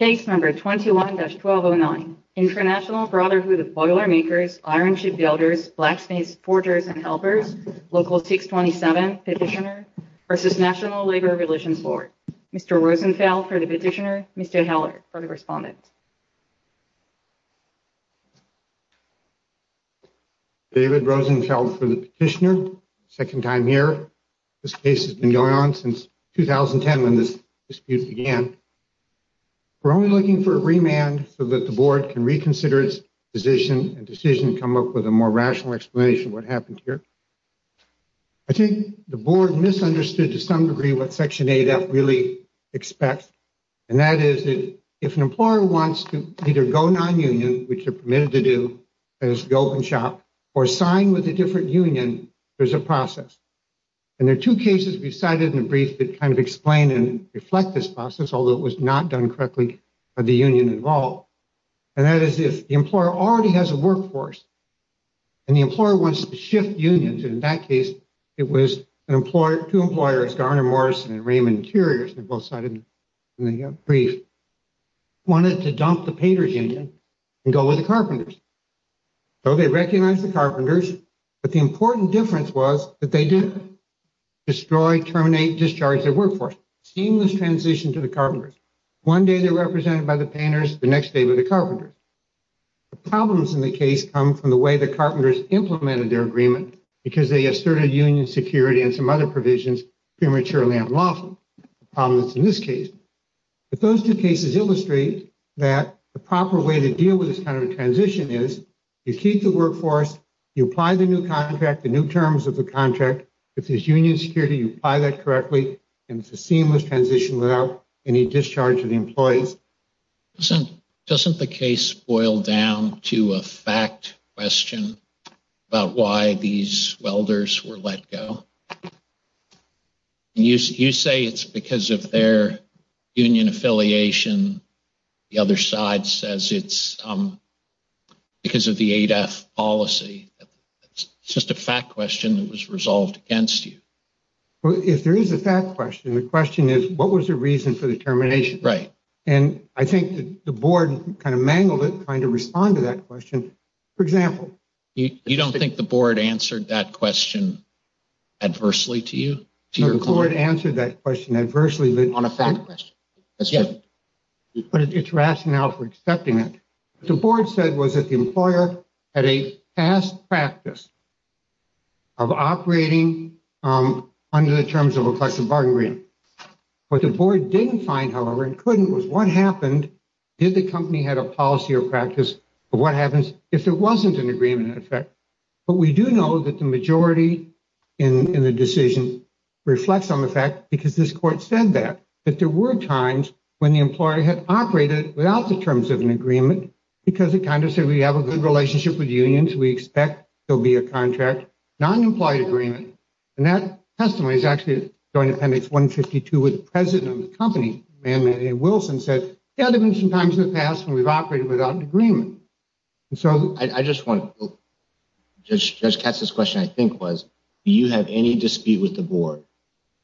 Case number 21-1209. International Brotherhood of Boilermakers, Iron Ship Builders, Blacksmiths, Forgers and Helpers, Local 627, Petitioner versus National Labor Relations Board. Mr. Rosenfeld for the petitioner, Mr. Heller for the respondent. David Rosenfeld for the petitioner, second time here. This case has been going on since 2010 when this dispute began. We're only looking for a remand so that the board can reconsider its position and decision to come up with a more rational explanation of what happened here. I think the board misunderstood to some degree what Section 8F really expects, and that is that if an employer wants to either go non-union, which they're permitted to do, that is to go up and shop, or sign with a different union, there's a few cases we've cited in the brief that kind of explain and reflect this process, although it was not done correctly by the union involved, and that is if the employer already has a workforce and the employer wants to shift unions, in that case it was an employer, two employers, Garner Morrison and Raymond Interiors, they're both cited in the brief, wanted to dump the painters union and go with the carpenters. So they recognized the carpenters, but the important difference was that they didn't destroy, terminate, discharge their workforce. Seamless transition to the carpenters. One day they're represented by the painters, the next day by the carpenters. The problems in the case come from the way the carpenters implemented their agreement, because they asserted union security and some other provisions prematurely and unlawfully, the problems in this case. But those two cases illustrate that the proper way to deal with this kind of a transition is you keep the workforce, you apply the new contract, the new terms of the contract, if there's union security, you apply that correctly, and it's a seamless transition without any discharge of the employees. Doesn't the case boil down to a fact question about why these welders were let go? You say it's because of their union affiliation. The other side says it's because of the ADAF policy. It's just a fact question that was resolved against you. Well, if there is a fact question, the question is, what was the reason for the termination? Right. And I think the board kind of mangled it trying to respond to that question. For example, you don't think the board answered that question adversely to you? The board answered that question adversely on a fact question. Yes. But it's rationale for accepting it. The board said was that the employer had a past practice of operating under the terms of a collective bargaining agreement. What the board didn't find, however, and couldn't was what happened if the company had a policy or practice of what happens if there wasn't an agreement in effect. But we do know that the majority in the decision reflects on the fact, because this court said that, that there were times when the employer had operated without the terms of an agreement because it kind of said we have a good relationship with unions, we expect there'll be a contract, non-employee agreement, and that testimony is actually going to appendix 152 with the president of the company, Manman A. Wilson, said there have been some times in the past when we've operated without an agreement. So I just want, Judge Katz's question I think was, do you have any dispute with the board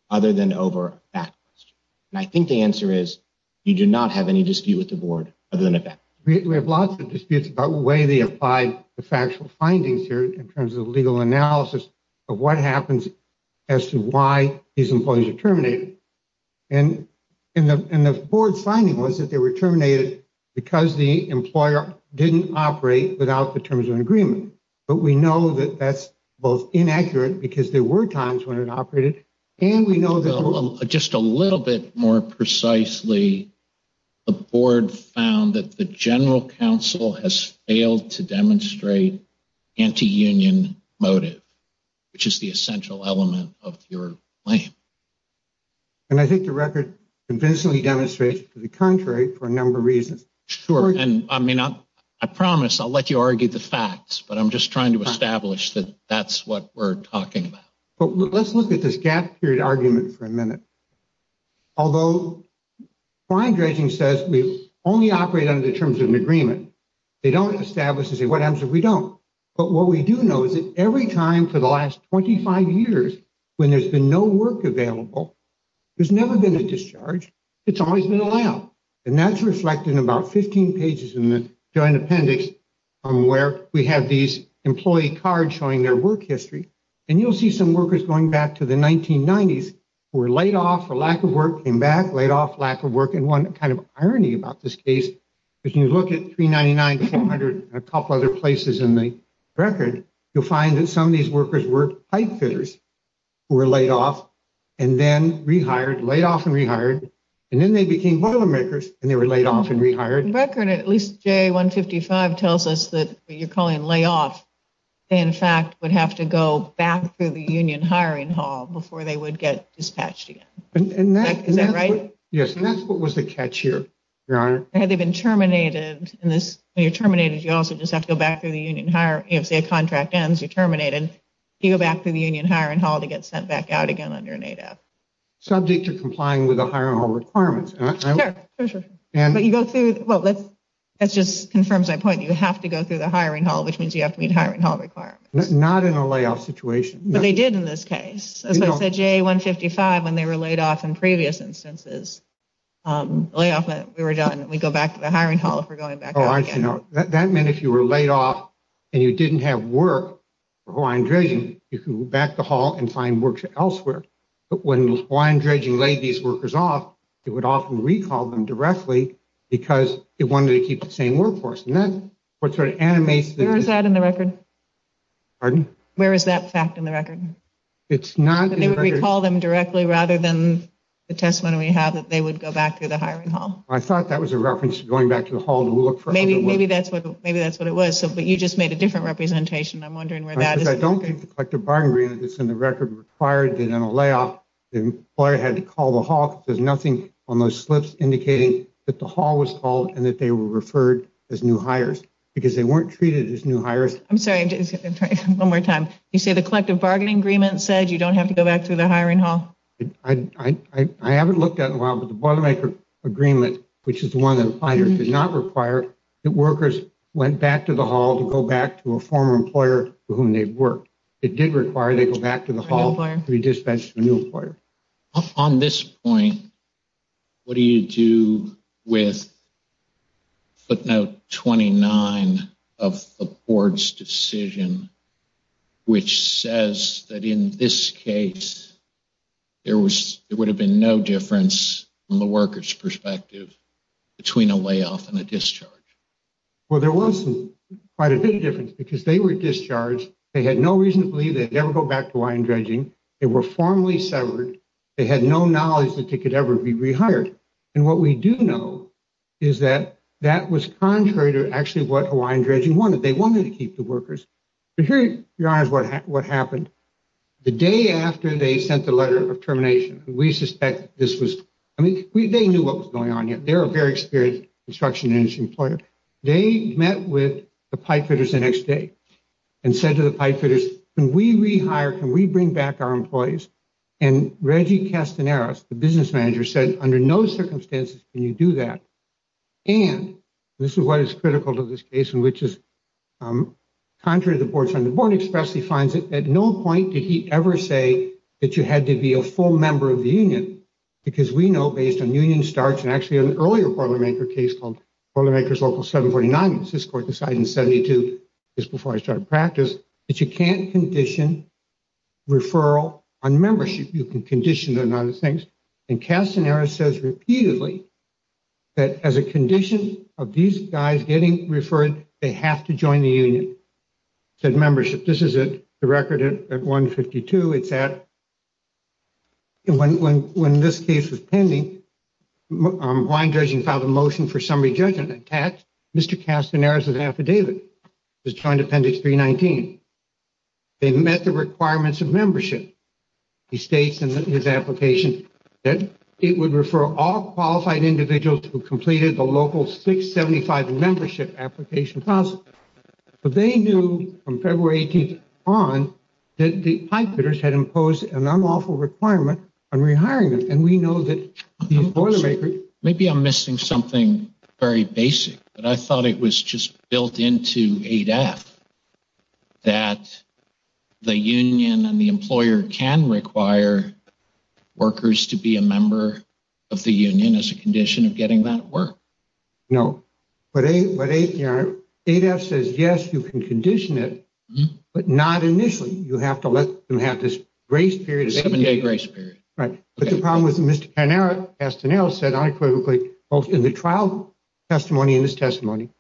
other than over a fact question? And I think the answer is you do not have any dispute with the board other than a fact question. We have lots of disputes about the way they apply the factual findings here in terms of legal analysis of what happens as to why these employees are terminated. And the board's finding was that they were terminated because the employer didn't operate without the terms of an agreement. But we know that that's both inaccurate, because there were times when it operated, and we know that... Just a little bit more precisely, the board found that the general counsel has failed to demonstrate anti-union motive, which is the essential element of your claim. And I think the record convincingly demonstrates to the contrary for a number of reasons. Sure, and I mean, I promise I'll let you argue the facts, but I'm just trying to establish that that's what we're talking about. But let's look at this gap period argument for a minute. Although client dredging says we only operate under the terms of an agreement, they don't establish what happens if we don't. But what we do know is that every time for the last 25 years when there's been no work available, there's never been a discharge. It's always been allowed. And that's reflected in about 15 pages in the joint appendix from where we have these employee cards showing their work history. And you'll see some workers going back to the 1990s who were laid off for lack of work, came back, laid off, lack of work. And one kind of irony about this case, if you look at 399 to 400 and a couple other places in the record, you'll find that some of these workers were pipefitters, who were laid off, and then rehired, laid off and rehired. And then they became boilermakers, and they were laid off and calling layoff. In fact, would have to go back through the union hiring hall before they would get dispatched again. And that is that right? Yes. And that's what was the catch here, your honor. Had they been terminated in this, you're terminated, you also just have to go back to the union hire. If a contract ends, you're terminated. You go back to the union hiring hall to get sent back out again on your native subject to complying with the hiring hall requirements. But you go through. Well, let's just confirms my point. You have to go through the hiring hall, which means you have to meet hiring hall requirements, not in a layoff situation. But they did in this case, as I said, J 155 when they were laid off in previous instances, um, layoff. We were done. We go back to the hiring hall for going back. Oh, aren't you know that meant if you were laid off and you didn't have work for Hawaiian dredging, you can go back the hall and find work elsewhere. But when Hawaiian dredging laid these workers off, it would often recall them directly because it wanted to keep the same workforce. And that's what sort of animates. Where is that in the record? Pardon? Where is that fact in the record? It's not. We call them directly rather than the testimony we have that they would go back to the hiring hall. I thought that was a reference going back to the hall. Maybe that's what maybe that's what it was. But you just made a different representation. I'm wondering where that is. I don't think the collective bargaining agreement that's in the record required in a layoff. The employer had to call the hawk. There's nothing on those slips indicating that the hall was called and that they were referred as new hires because they weren't treated as new hires. I'm sorry, one more time. You say the collective bargaining agreement said you don't have to go back to the hiring hall. I haven't looked at in a while, but the Boilermaker agreement, which is the one that did not require that workers went back to the hall to go back to a former employer for whom they've worked. It did require they go back to the hall to be dispatched to a new employer. On this point, what do you do with footnote 29 of the board's decision, which says that in this case, there would have been no difference from the workers' perspective between a layoff and a discharge? Well, there wasn't quite a big difference because they were discharged. They had no reason to believe they'd ever go back to line dredging. They were formally severed. They had no knowledge that they could ever be rehired. And what we do know is that that was contrary to actually what Hawaiian Dredging wanted. They wanted to keep the workers. But here, Your Honor, is what happened. The day after they sent the letter of termination, we suspect this was, I mean, they knew what was going on. They're a very experienced construction industry employer. They met with the pipefitters the next day and said to the Reggie Castaneras, the business manager, said, under no circumstances can you do that. And this is what is critical to this case, in which is contrary to the board's underboard express, he finds that at no point did he ever say that you had to be a full member of the union. Because we know, based on union starts, and actually an earlier Boilermaker case called Boilermaker's Local 749, which this court decided in 72, just before I started practice, that you can't condition referral on membership. You can condition on other things. And Castaneras says repeatedly that as a condition of these guys getting referred, they have to join the union, said membership. This is the record at 152. It's at, when this case was pending, Hawaiian Dredging filed a motion for summary judgment. In fact, Mr. Castaneras' affidavit was joined Appendix 319. They met the requirements of membership. He states in his application that it would refer all qualified individuals who completed the local 675 membership application process. But they knew from February 18th on that the pipefitters had imposed an unlawful requirement on rehiring them. And we know that the Boilermaker... Maybe I'm missing something very basic, but I thought it was just built into ADAPT that the union and the employer can require workers to be a member of the union as a condition of getting that work. No, but ADAPT says, yes, you can condition it, but not initially. You have to let them have this grace period. A seven-day grace period. Right. But the problem with Mr. Castaneras said unequivocally, both in the trial testimony and his testimony,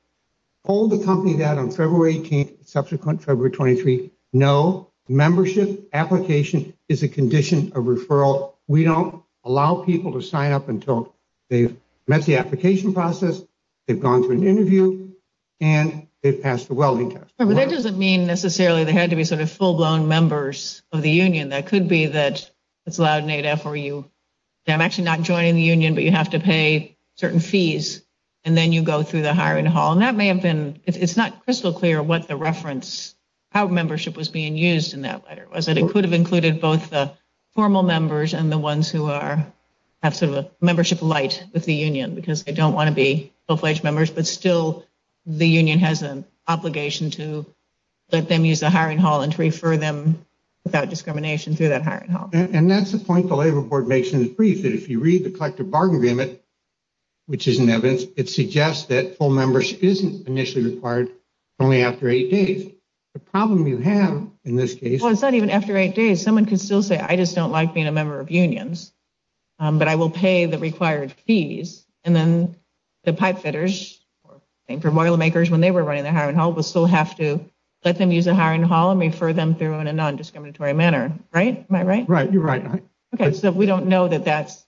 told the company that on February 18th, subsequent February 23, no, membership application is a condition of referral. We don't allow people to sign up until they've met the application process, they've gone through an interview, and they've passed the welding test. But that doesn't mean necessarily they had to be sort of full-blown members of the union. That could be that it's allowed an AFRU. I'm actually not joining the union, but you have to pay certain fees, and then you go through the hiring hall. And that may have been, it's not crystal clear what the reference, how membership was being used in that letter was. It could have included both the formal members and the ones who are, have sort of a membership light with the union, because they don't want to be full-fledged members, but still the union has an obligation to let them use the hiring hall and to refer them without discrimination through that hiring hall. And that's the point the Labor Board makes in the brief, that if you read the suggests that full members isn't initially required only after eight days. The problem you have in this case... Well, it's not even after eight days. Someone could still say, I just don't like being a member of unions, but I will pay the required fees. And then the pipe fitters, or the boiler makers, when they were running the hiring hall, will still have to let them use the hiring hall and refer them through in a non-discriminatory manner, right? Am I right? Right, you're right. Okay, so we don't know that that's,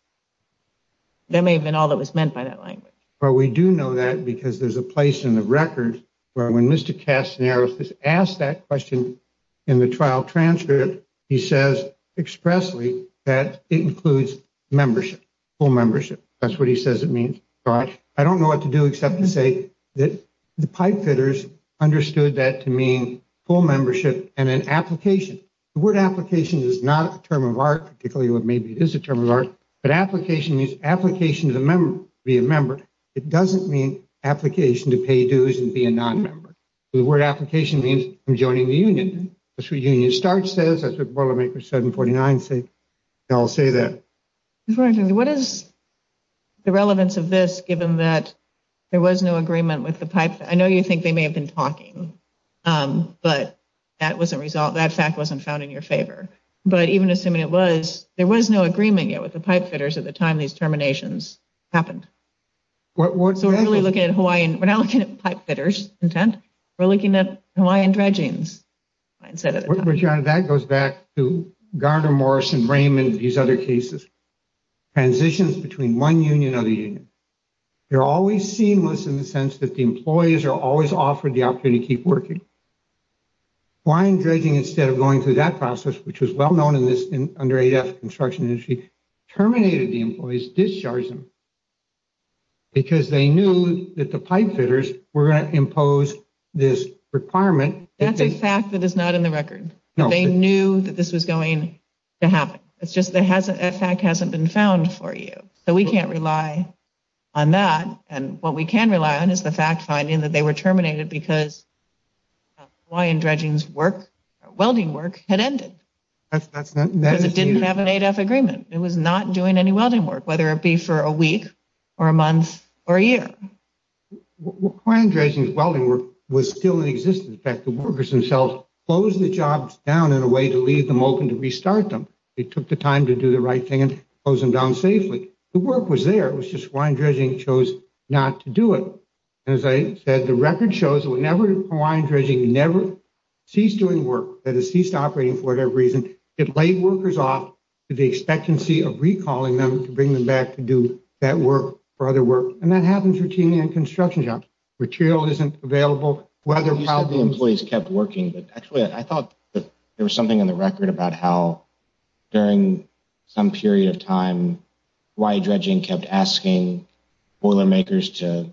that may have been all that was meant by that language. Well, we do know that because there's a place in the record where when Mr. Castaneros was asked that question in the trial transcript, he says expressly that it includes membership, full membership. That's what he says it means. I don't know what to do except to say that the pipe fitters understood that to mean full membership and an application. The word application is not a term of art, particularly what may be is a term of art, but application means application to be a member. It doesn't mean application to pay dues and be a non-member. The word application means I'm joining the union. That's what Union Start says, that's what Boilermaker 749 says. I'll say that. What is the relevance of this given that there was no agreement with the pipe? I know you think they may have been talking, but that wasn't resolved, that fact wasn't found in your favor. But even assuming it was, there was no agreement yet with the terminations happened. So we're really looking at Hawaiian, we're not looking at pipe fitters intent, we're looking at Hawaiian dredgings. That goes back to Gardner, Morrison, Raymond, these other cases. Transitions between one union or the union. They're always seamless in the sense that the employees are always offered the opportunity to keep working. Hawaiian dredging instead of going through that process, which was well known in this under 8F construction industry, terminated the employees, discharged them. Because they knew that the pipe fitters were going to impose this requirement. That's a fact that is not in the record. No. They knew that this was going to happen. It's just that hasn't, that fact hasn't been found for you. So we can't rely on that and what we can rely on is the fact finding that they were terminated because Hawaiian dredging's work, welding work, had ended. That's, that's not. Because it didn't have an 8F agreement. It was not doing any welding work, whether it be for a week or a month or a year. Hawaiian dredging's welding work was still in existence. In fact, the workers themselves closed the jobs down in a way to leave them open to restart them. It took the time to do the right thing and close them down safely. The work was there, it was just Hawaiian dredging chose not to do it. And as I said, the record shows whenever Hawaiian dredging never ceased doing work, that it ceased operating for whatever reason, it laid workers off to the expectancy of recalling them to bring them back to do that work or other work. And that happens routinely in construction jobs. Material isn't available, whether welding is. You said the employees kept working, but actually I thought that there was something in the record about how during some period of time, Hawaiian dredging kept asking boilermakers to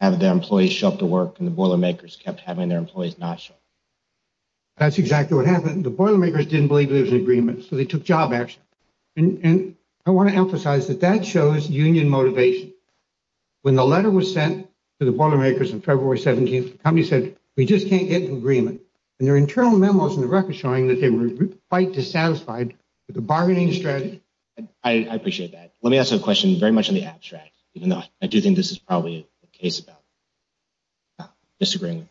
have their employees show up to work and the boilermakers kept having their The boilermakers didn't believe there was an agreement, so they took job action. And I want to emphasize that that shows union motivation. When the letter was sent to the boilermakers on February 17th, the company said, we just can't get an agreement. And their internal memos in the record showing that they were quite dissatisfied with the bargaining strategy. I appreciate that. Let me ask a question very much in the abstract, even though I do think this is probably a case about disagreeing.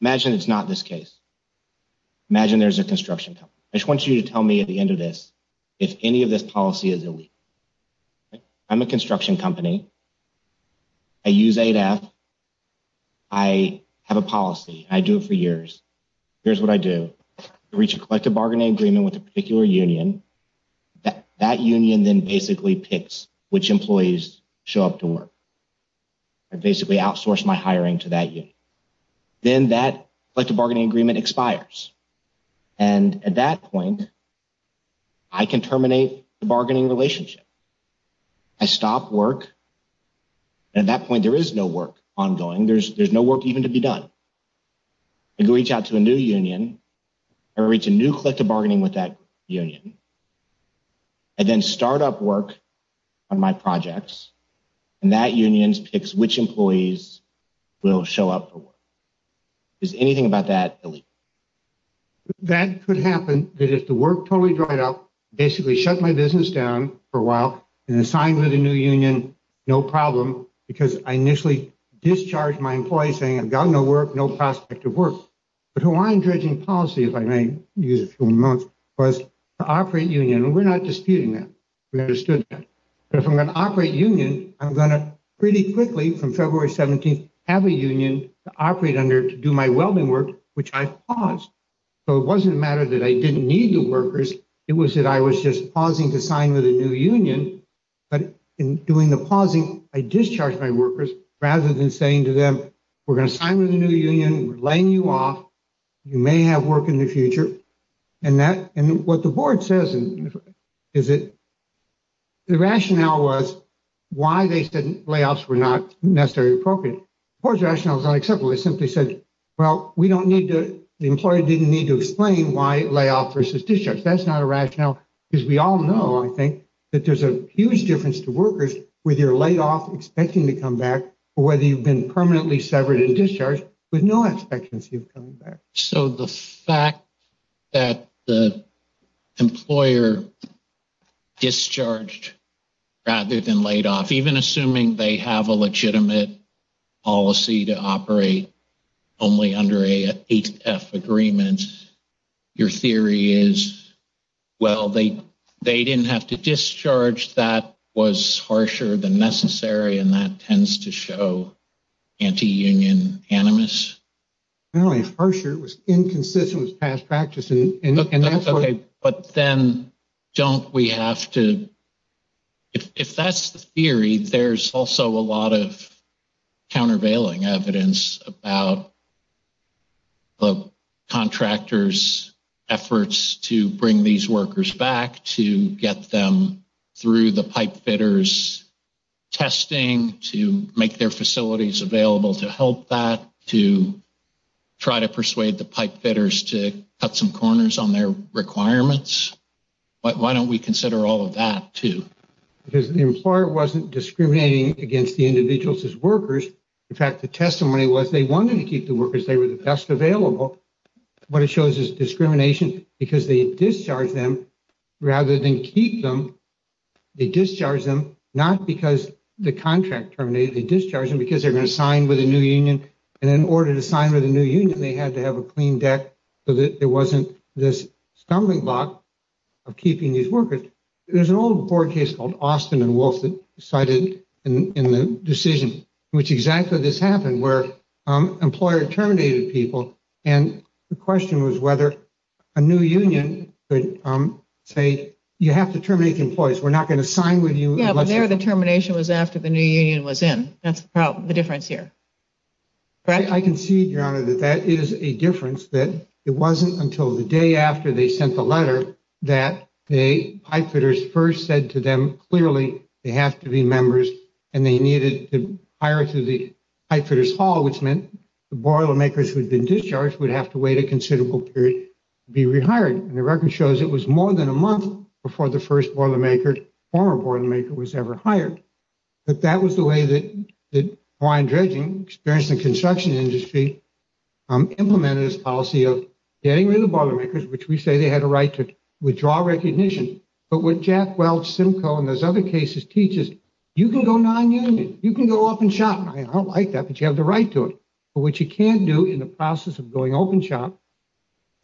Imagine it's not this case. Imagine there's a construction company. I just want you to tell me at the end of this, if any of this policy is illegal. I'm a construction company. I use ADAPT. I have a policy. I do it for years. Here's what I do. I reach a collective bargaining agreement with a particular union. That union then basically picks which employees show up to work. I basically outsource my hiring to that union. Then that collective bargaining agreement expires. And at that point, I can terminate the bargaining relationship. I stop work. At that point, there is no work ongoing. There's no work even to be done. I reach out to a new union. I reach a new collective and that union picks which employees will show up for work. Is anything about that illegal? That could happen that if the work totally dried up, basically shut my business down for a while and assigned to the new union, no problem, because I initially discharged my employees saying I've got no work, no prospect of work. But Hawaiian dredging policy, if I may use a few more words, the operating union, we're not disputing that. We understood that. But if I'm an operating union, I'm going to pretty quickly from February 17th have a union to operate under to do my welding work, which I've paused. So it wasn't a matter that I didn't need the workers. It was that I was just pausing to sign with a new union. But in doing the pausing, I discharged my workers rather than saying to them, we're going to sign with a new union, we're laying you off. You may have work in the future. And what the board says is that the why they said layoffs were not necessarily appropriate. The board's rationale is not acceptable. They simply said, well, we don't need to, the employer didn't need to explain why layoff versus discharge. That's not a rationale because we all know, I think, that there's a huge difference to workers whether you're laid off, expecting to come back, or whether you've been permanently severed and discharged with no expectancy of coming back. So the fact that the employer discharged rather than laid off, even assuming they have a legitimate policy to operate only under a HF agreement, your theory is, well, they didn't have to discharge that was harsher than necessary. And that tends to show anti-union animus. Not only harsher, it was inconsistent with past practice. But then don't we have to, if that's the theory, there's also a lot of countervailing evidence about the contractors' efforts to bring these to make their facilities available to help that, to try to persuade the pipe fitters to cut some corners on their requirements. Why don't we consider all of that, too? Because the employer wasn't discriminating against the individuals as workers. In fact, the testimony was they wanted to keep the workers, they were the best available. What it shows is discrimination because they discharged them rather than keep them. They discharged them not because the contract terminated, they discharged them because they're going to sign with a new union. And in order to sign with a new union, they had to have a clean deck so that there wasn't this stumbling block of keeping these workers. There's an old court case called Austin and Wolf that decided in the decision which exactly this happened, where an employer terminated people. And the say, you have to terminate the employees, we're not going to sign with you. Yeah, but their determination was after the new union was in. That's the difference here. I can see, Your Honor, that that is a difference, that it wasn't until the day after they sent the letter that the pipe fitters first said to them, clearly, they have to be members, and they needed to hire through the pipe fitters hall, which meant the boilermakers who had been discharged would have to wait a more than a month before the first boilermaker, former boilermaker, was ever hired. But that was the way that Hawaiian Dredging, experienced in construction industry, implemented this policy of getting rid of boilermakers, which we say they had a right to withdraw recognition. But what Jack Welch, Simcoe, and those other cases teaches, you can go non-union, you can go open shop. I don't like that, but you have the right to it. But what you can't do in the process of going open shop,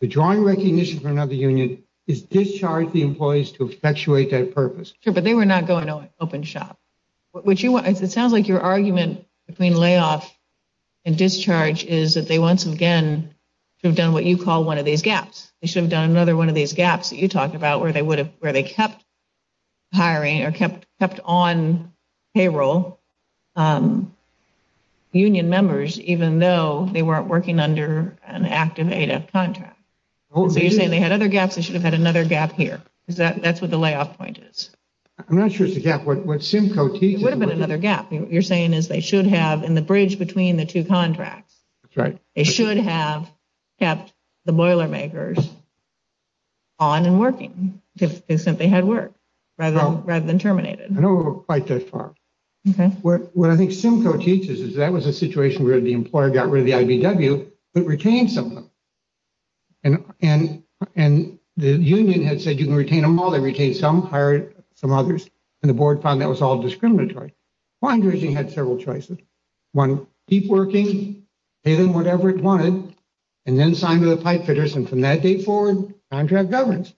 withdrawing recognition for another union is discharge the employees to effectuate that purpose. Sure, but they were not going open shop. It sounds like your argument between layoff and discharge is that they once again should have done what you call one of these gaps. They should have done another one of these gaps that you talked about, where they kept hiring or kept on payroll union members, even though they weren't working under an active AF contract. So you're saying they had other gaps, they should have had another gap here. That's what the layoff point is. I'm not sure it's a gap. What Simcoe teaches... It would have been another gap. You're saying is they should have, in the bridge between the two contracts, they should have kept the boilermakers on and working, if they simply had work, rather than terminated. I know we're quite that far. Okay. What I think Simcoe teaches is that was a situation where the retained some of them. And the union had said, you can retain them all. They retained some, hired some others, and the board found that was all discriminatory. Wind Raging had several choices. One, keep working, pay them whatever it wanted, and then sign with the pipefitters. And from that date forward, contract governance.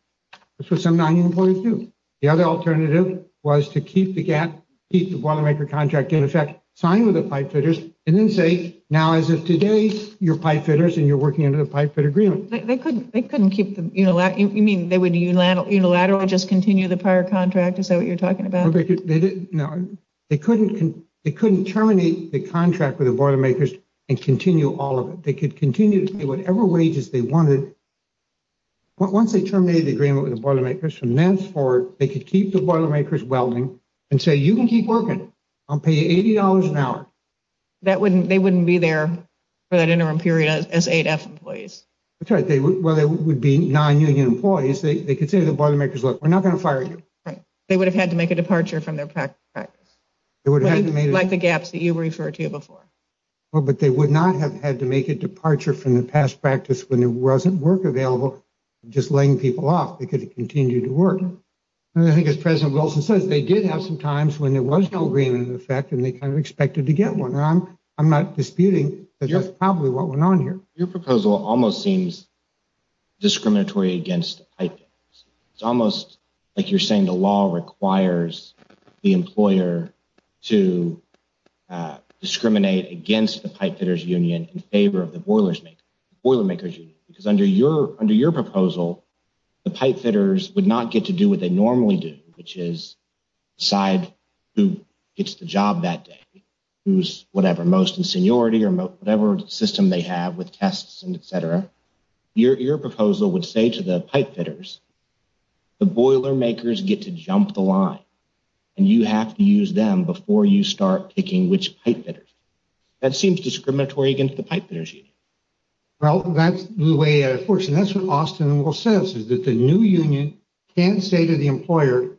This was some non-union employees too. The other alternative was to keep the gap, keep the boilermaker contract in effect, sign with the pipefitters, and then say, now as of today, you're pipefitters and you're working under the pipefit agreement. They couldn't keep the... You mean they would unilaterally just continue the prior contract? Is that what you're talking about? No. They couldn't terminate the contract with the boilermakers and continue all of it. They could continue to pay whatever wages they wanted. Once they terminated the agreement with the boilermakers, from then forward, they could keep the boilermakers welding and say, you can keep working. I'll pay you $80 an hour. They wouldn't be there for that interim period as AF employees? That's right. Well, they would be non-union employees. They could say to the boilermakers, look, we're not going to fire you. Right. They would have had to make a departure from their practice, like the gaps that you referred to before. Well, but they would not have had to make a departure from the past practice when there wasn't work available, just laying people off. They could continue to work. And I did have some times when there was no agreement in effect and they kind of expected to get one. I'm not disputing. That's probably what went on here. Your proposal almost seems discriminatory against pipefitters. It's almost like you're saying the law requires the employer to discriminate against the pipefitters union in favor of the boilermakers union. Because under your proposal, the pipefitters would not get to do what they normally do, which is decide who gets the job that day, who's whatever, most in seniority or whatever system they have with tests and etc. Your proposal would say to the pipefitters, the boilermakers get to jump the line and you have to use them before you start picking which pipefitters. That seems discriminatory against the pipefitters union. Well, that's the way it works. And that's what Austin and Will says, is that the new union can't say to the employer,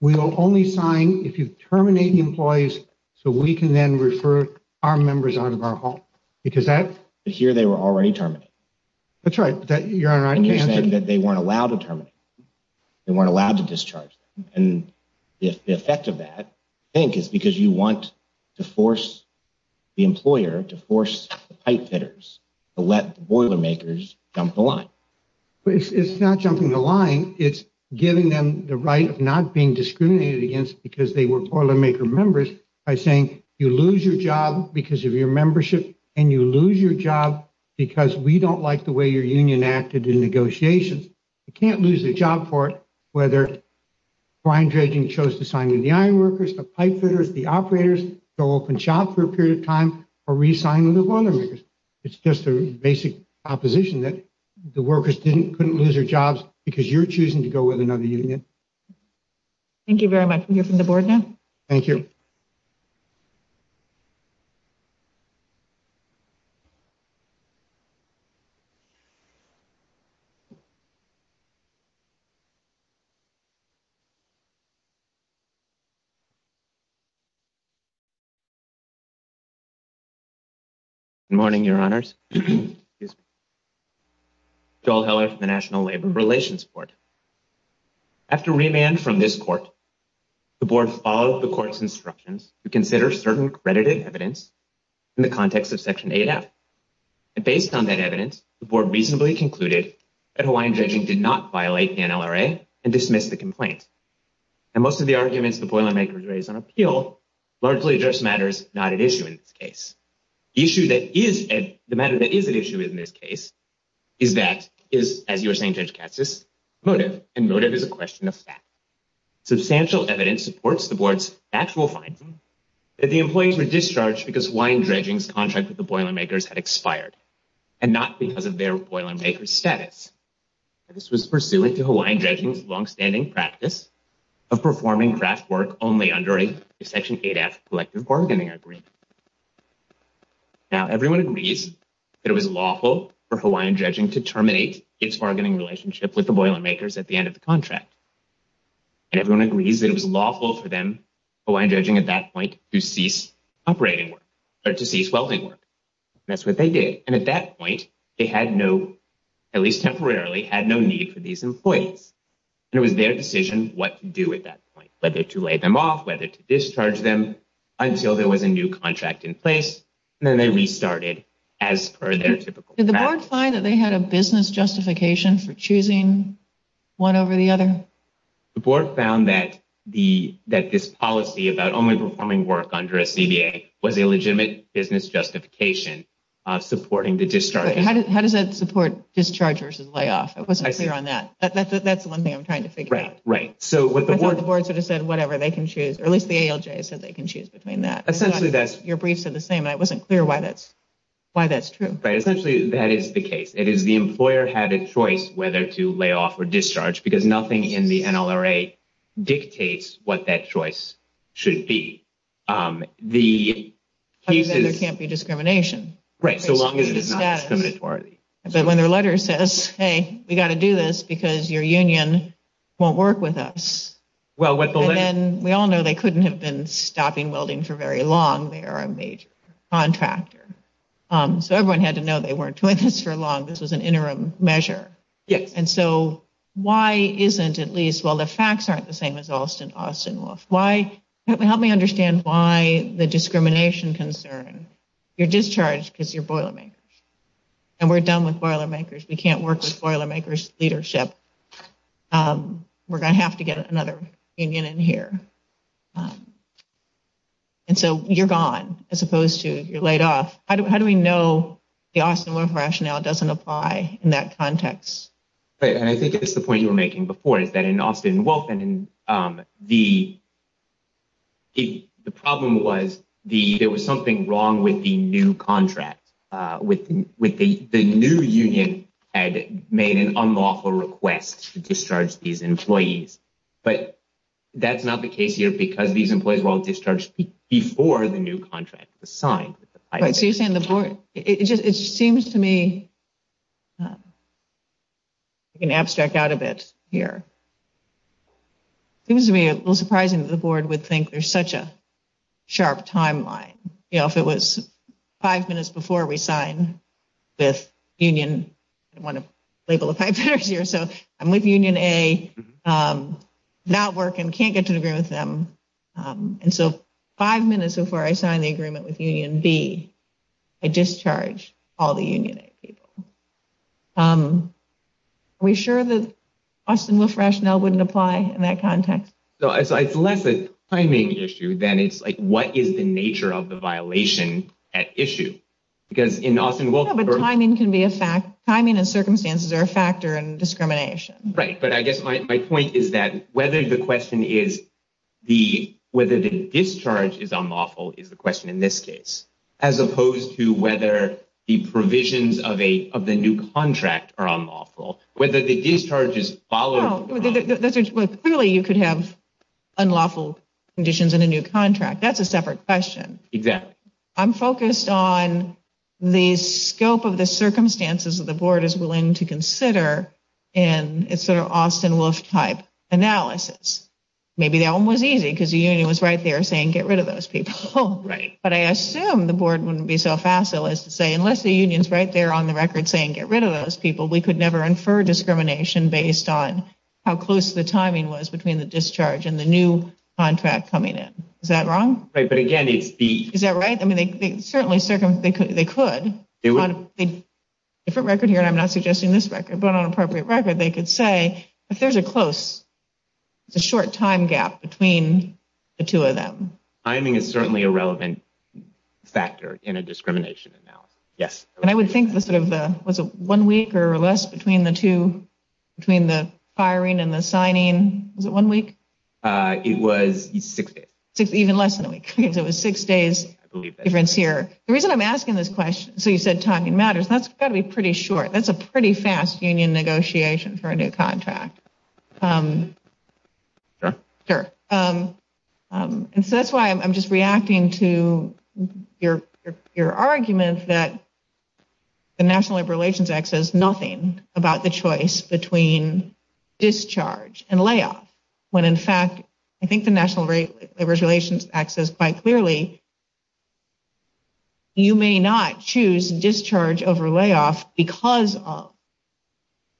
we will only sign if you terminate the employees so we can then refer our members out of our home because that's here. They were already terminated. That's right. That you're saying that they weren't allowed to terminate. They weren't allowed to discharge. And if the effect of that think is because you want to force the employer to force the pipefitters to let the boilermakers jump the line. It's not jumping the line. It's giving them the right of not being discriminated against because they were boilermaker members by saying you lose your job because of your membership and you lose your job because we don't like the way your union acted in negotiations. You can't lose a job for it. Whether Brian Dredging chose to sign with the ironworkers, the pipefitters, the operators, go off and shop for a period of time or re-sign with the boilermakers. It's just a basic opposition that the workers couldn't lose their jobs because you're in. Thank you very much. We hear from the board now. Thank you. Good morning, Your Honors. Joel Heller from the National Labor Relations Board. After remand from this court, the board followed the court's instructions to consider certain credited evidence in the context of Section 8F. And based on that evidence, the board reasonably concluded that Hawaiian Dredging did not violate the NLRA and dismiss the complaint. And most of the arguments the boilermakers raised on appeal largely address matters not at issue in this case. The issue that is, the matter that is at motive. And motive is a question of fact. Substantial evidence supports the board's actual finding that the employees were discharged because Hawaiian Dredging's contract with the boilermakers had expired and not because of their boilermakers' status. This was pursuant to Hawaiian Dredging's longstanding practice of performing craft work only under a Section 8F collective bargaining agreement. Now, everyone agrees that it was lawful for Hawaiian Dredging to terminate its bargaining relationship with the boilermakers at the end of the contract. And everyone agrees that it was lawful for them, Hawaiian Dredging at that point, to cease operating work, or to cease welding work. That's what they did. And at that point, they had no, at least temporarily, had no need for these employees. And it was their decision what to do at that point, whether to lay them off, whether to discharge them, until there was a new contract in place. And then they restarted as per their typical contract. Did the board find that they had a business justification for choosing one over the other? The board found that this policy about only performing work under a CBA was a legitimate business justification of supporting the discharge. How does that support discharge versus layoff? It wasn't clear on that. That's the one thing I'm trying to figure out. Right. So what the board sort of said, whatever, they can choose, or at least the ALJ said they can choose between that. Essentially, that's your brief said the same. And it wasn't clear why that's true. Right. Essentially, that is the case. It is the employer had a choice whether to lay off or discharge because nothing in the NLRA dictates what that choice should be. The cases can't be discrimination, right? So long as it's not discriminatory. But when their letter says, Hey, we got to do this because your union won't work with us. Well, what then we all know they couldn't have been stopping welding for very long. They are a major contractor. So everyone had to know they weren't doing this for long. This was an interim measure. Yes. And so why isn't at least while the facts aren't the same as Austin, Austin Wolf, why? Help me understand why the discrimination concern your discharge because you're Boilermakers. And we're done with Boilermakers. We can't work with Boilermakers leadership. We're going to have to get another union in here. And so you're gone as opposed to you're we know the Austin Wolf rationale doesn't apply in that context. And I think it's the point you were making before is that in Austin Wolf and the the problem was the there was something wrong with the new contract with with the new union had made an unlawful request to discharge these employees. But that's not the case here because these employees were discharged before the new contract was signed. So you're saying the board, it just it seems to me an abstract out of it here. It was to me a little surprising that the board would think there's such a sharp timeline. You know, if it was five minutes before we sign this union, I want to label a five years here. So I'm with Union A not work and can't get to agree with them. And so five minutes before I signed the agreement with Union B, I discharged all the Union A people. Are we sure that Austin Wolf rationale wouldn't apply in that context? So it's less a timing issue than it's like, what is the nature of the violation at issue? Because in Austin Wolf timing can be a fact. Timing and circumstances are a factor in discrimination. Right. But I guess my point is that whether the question is the whether the discharge is unlawful is the question in this case, as opposed to whether the provisions of a of the new contract are unlawful, whether the discharges follow. Clearly, you could have unlawful conditions in a new contract. That's a separate question. Exactly. I'm focused on the scope of the circumstances that the board is willing to consider. And it's sort of Austin Wolf type analysis. Maybe that one was easy because the union was right there saying get rid of those people. Right. But I assume the board wouldn't be so facile as to say unless the unions right there on the record saying get rid of those people, we could never infer discrimination based on how close the timing was between the discharge and the new contract coming in. Is that wrong? Right. But again, it's the Is that right? I mean, they certainly circum they could they could do it. If a record here and I'm not suggesting this record, but on appropriate record, they could say, if there's a close, it's a short time gap between the two of them. Timing is certainly a relevant factor in a discrimination analysis. Yes. And I would think the sort of the was a one week or less between the two between the firing and the signing. Was it one week? It was even less than a week. It was six days difference here. The reason I'm asking this question. So you said timing matters. That's got to be pretty short. That's a pretty fast union negotiation for a new contract. Sure, sure. And so that's why I'm just reacting to your your argument that. The National Labor Relations Act says nothing about the choice between discharge and layoff, when in fact, I think the National Labor Relations Act says quite clearly. You may not choose discharge over layoff because of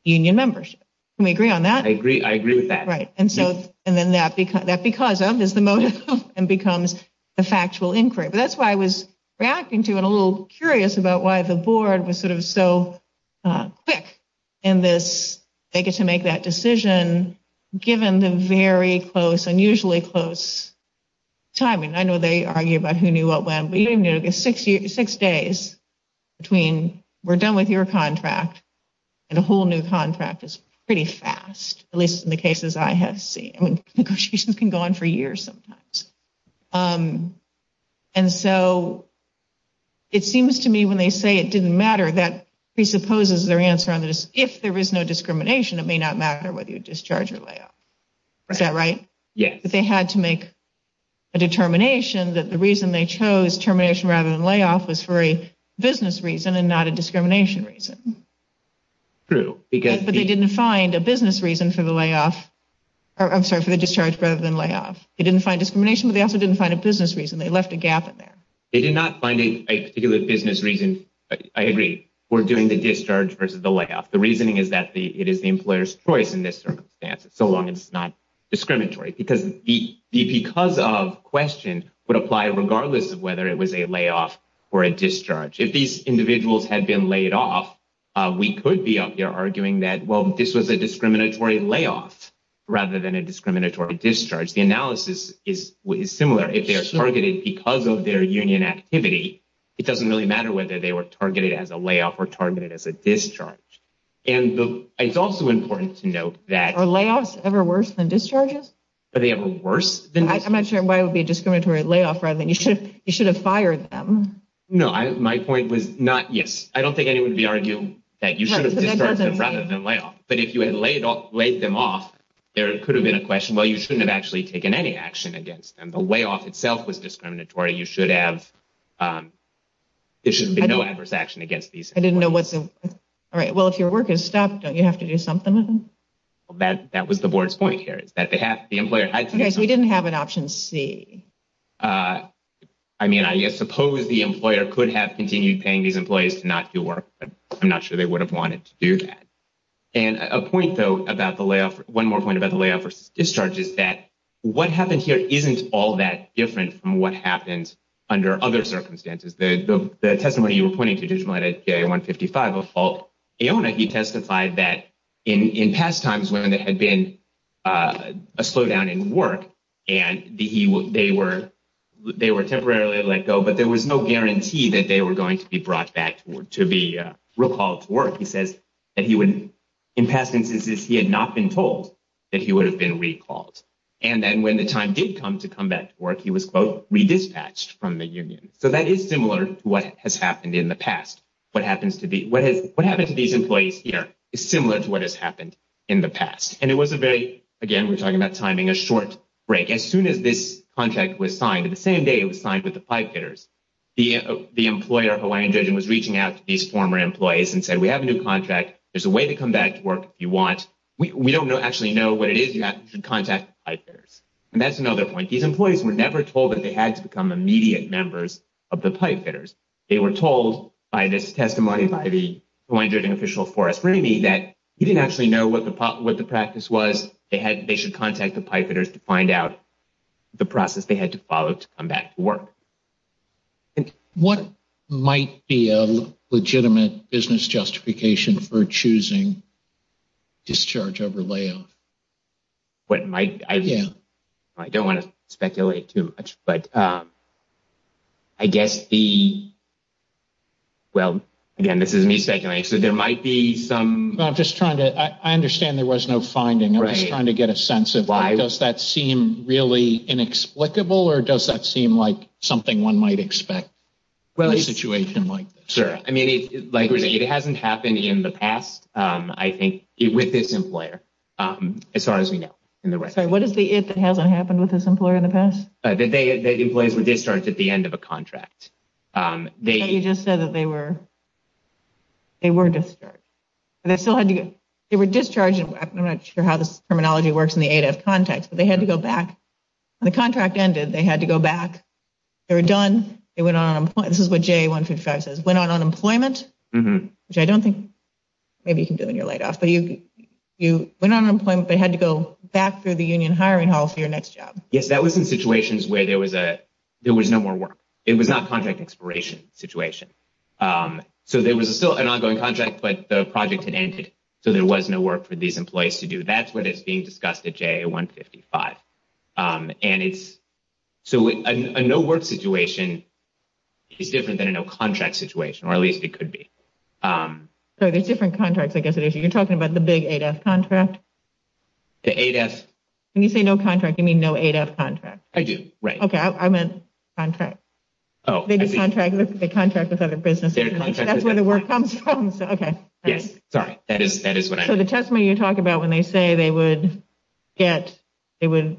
union membership. We agree on that. I agree. I agree with that. Right. And so and then that because that because of is the motive and becomes the factual inquiry. But that's why I was reacting to and a little curious about why the board was sort of so quick in this. They get to make that decision given the very close, unusually close timing. I know they argue about who knew what, when, but you know, six years, six days between we're done with your contract and a whole new contract is pretty fast, at least in the cases I have seen. Negotiations can go on for years sometimes. And so it seems to me when they say it didn't matter, that presupposes their answer on this. If there is no discrimination, it may not matter whether you discharge or layoff. Is that right? Yes. They had to make a determination that the reason they chose termination rather than layoff was for a business reason and not a discrimination reason. True, because they didn't find a business reason for the layoff. I'm sorry for the discharge rather than layoff. They didn't find discrimination, but they also didn't find a business reason. They left a gap in there. They did not find a particular business reason. I agree. We're doing the discharge versus the layoff. The reasoning is that it is the employer's choice in this circumstance, so long as it's not discriminatory, because the because of question would apply regardless of whether it was a layoff or a discharge. If these individuals had been laid off, we could be out there arguing that, well, this was a discriminatory layoff rather than a discriminatory discharge. The analysis is similar. If they are targeted because of their union activity, it doesn't really matter whether they were targeted as a layoff or targeted as a discharge. And it's also important to note that... Are layoffs ever worse than discharges? Are they ever worse than discharges? I'm not sure why it would be a discriminatory layoff rather than... You should have fired them. No, my point was not... Yes, I don't think anyone would be arguing that you should have discharged them rather than layoff. But if you had laid them off, there could have been a question, well, you shouldn't have actually taken any action against them. The layoff itself was discriminatory. You should have... There shouldn't be no adverse action against these. I didn't get to do something with them? That was the board's point here, is that they have... The employer had... Okay, so we didn't have an option C. I mean, I suppose the employer could have continued paying these employees to not do work, but I'm not sure they would have wanted to do that. And a point, though, about the layoff... One more point about the layoff versus discharge is that what happened here isn't all that different from what happens under other circumstances. The testimony you were pointing to, Judge Millett, at CA 155, of Falk Aona, he testified that in past times when there had been a slowdown in work and they were temporarily let go, but there was no guarantee that they were going to be brought back to be recalled to work. He says that he would... In past instances, he had not been told that he would have been recalled. And then when the time did come to come back to work, he was, quote, what has happened in the past. What happens to these employees here is similar to what has happened in the past. And it was a very... Again, we're talking about timing, a short break. As soon as this contract was signed, the same day it was signed with the pipe fitters, the employer, Hawaiian Judge, was reaching out to these former employees and said, we have a new contract, there's a way to come back to work if you want. We don't actually know what it is, you should contact the pipe fitters. And that's another point. These employees were never told that they had to become immediate members of the pipe fitters. They were told by this testimony by the Hawaiian Judging Official Forrest Ramey, that he didn't actually know what the practice was, they should contact the pipe fitters to find out the process they had to follow to come back to work. What might be a legitimate business justification for choosing discharge over layoff? What might... I don't wanna speculate too much, but I guess the... Well, again, this is me speculating, so there might be some... I'm just trying to... I understand there was no finding. I'm just trying to get a sense of why... Does that seem really inexplicable or does that seem like something one might expect in a situation like this? Sure. It hasn't happened in the past, I think, with this employer, as far as we know. Sorry, what is the it that hasn't happened with this employer in the past? That employees were discharged at the end of a contract. You just said that they were discharged. They still had to get... They were discharged, and I'm not sure how this terminology works in the ADEF context, but they had to go back. When the contract ended, they had to go back. They were done, they went on unemployment. This is what JA 155 says, went on unemployment, which I don't think maybe you can do in your layoff, but you went on unemployment, but you had to go back through the union hiring hall for your next job. Yes, that was in situations where there was no more work. It was not contract expiration situation. So there was still an ongoing contract, but the project had ended, so there was no work for these employees to do. That's what is being discussed at JA 155. And it's... So a no work situation is different than a no contract situation, or at least it could be. So there's different contracts, I guess it is. You're talking about the big ADEF contract? The ADEF... When you say no contract, you mean no ADEF contract. I do, right. Okay, I meant contract. Oh, I see. They contract with other businesses. That's where the word comes from, so... Okay. Yes, sorry. That is what I... So the testimony you talk about when they say they would get... They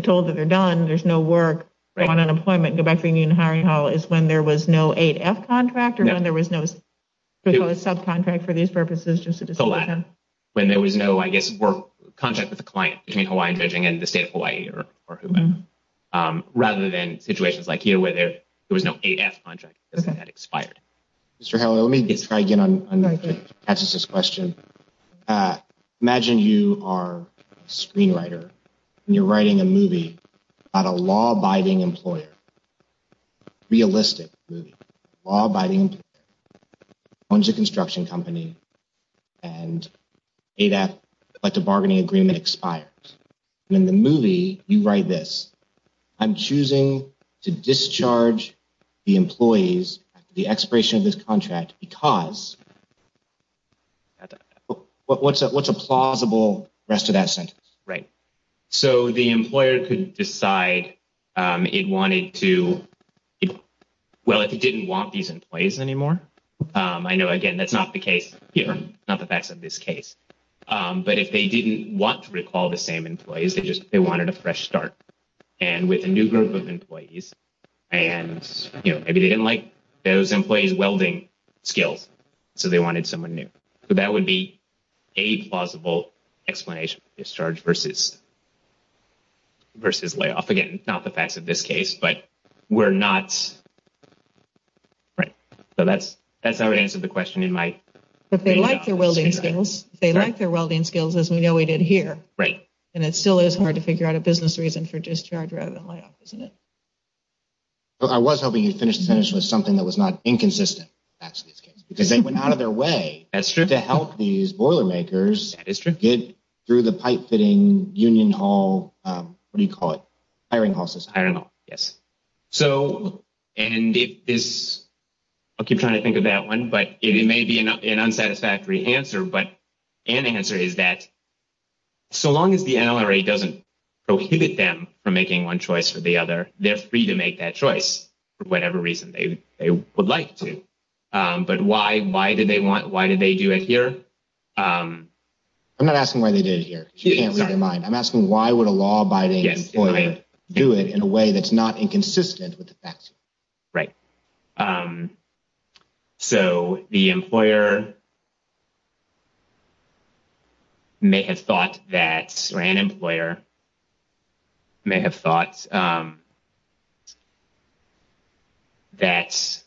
told that they're done, there's no work, go on unemployment, go back to union hiring hall is when there was no ADEF contract or when there was no subcontract for these purposes just to... When there was no, I guess, work contract with the client between Hawaiian Judging and the state of Hawaii or whoever, rather than situations like here where there was no ADEF contract because it had expired. Mr. Howell, let me try again to answer this question. Imagine you are a screenwriter and you're writing a movie about a law abiding employer. Realistic movie, law abiding employer owns a construction company and ADEF collective bargaining agreement expires. In the movie, you write this, I'm choosing to discharge the employees after the expiration of this contract because... What's a plausible rest of that sentence? Right. So the employer could decide it wanted to... Well, if it didn't want these employees anymore. I know, again, that's not the case here, not the facts of this case. But if they didn't want to recall the same employees, they just wanted a fresh start. And with a new group of employees, and maybe they didn't like those employees' welding skills, so they wanted someone new. So that would be a plausible explanation for discharge versus layoff. Again, not the facts of this case, but we're not... Right. So that's how I would answer the question in my... But they like their welding skills. They like their welding skills, as we know we did here. Right. And it still is hard to figure out a business reason for discharge rather than layoff, isn't it? I was hoping you'd finish the sentence with something that was not inconsistent, facts of this case, because they went out of their way... To help these Boilermakers... That is true. Get through the pipe fitting union hall... What do you call it? Hiring hall system. Hiring hall, yes. So, and if this... I'll keep trying to think of that one, but it may be an unsatisfactory answer, but an answer is that so long as the NLRA doesn't prohibit them from making one choice or the other, they're free to make that choice for whatever reason they would like to. But why did they want... Why did they do it here? I'm not asking why they did it here, if you can't read their mind. I'm asking why would a law abiding employer do it in a way that's not inconsistent with the facts? Right. So the employer may have thought that... Or an employer may have thought that...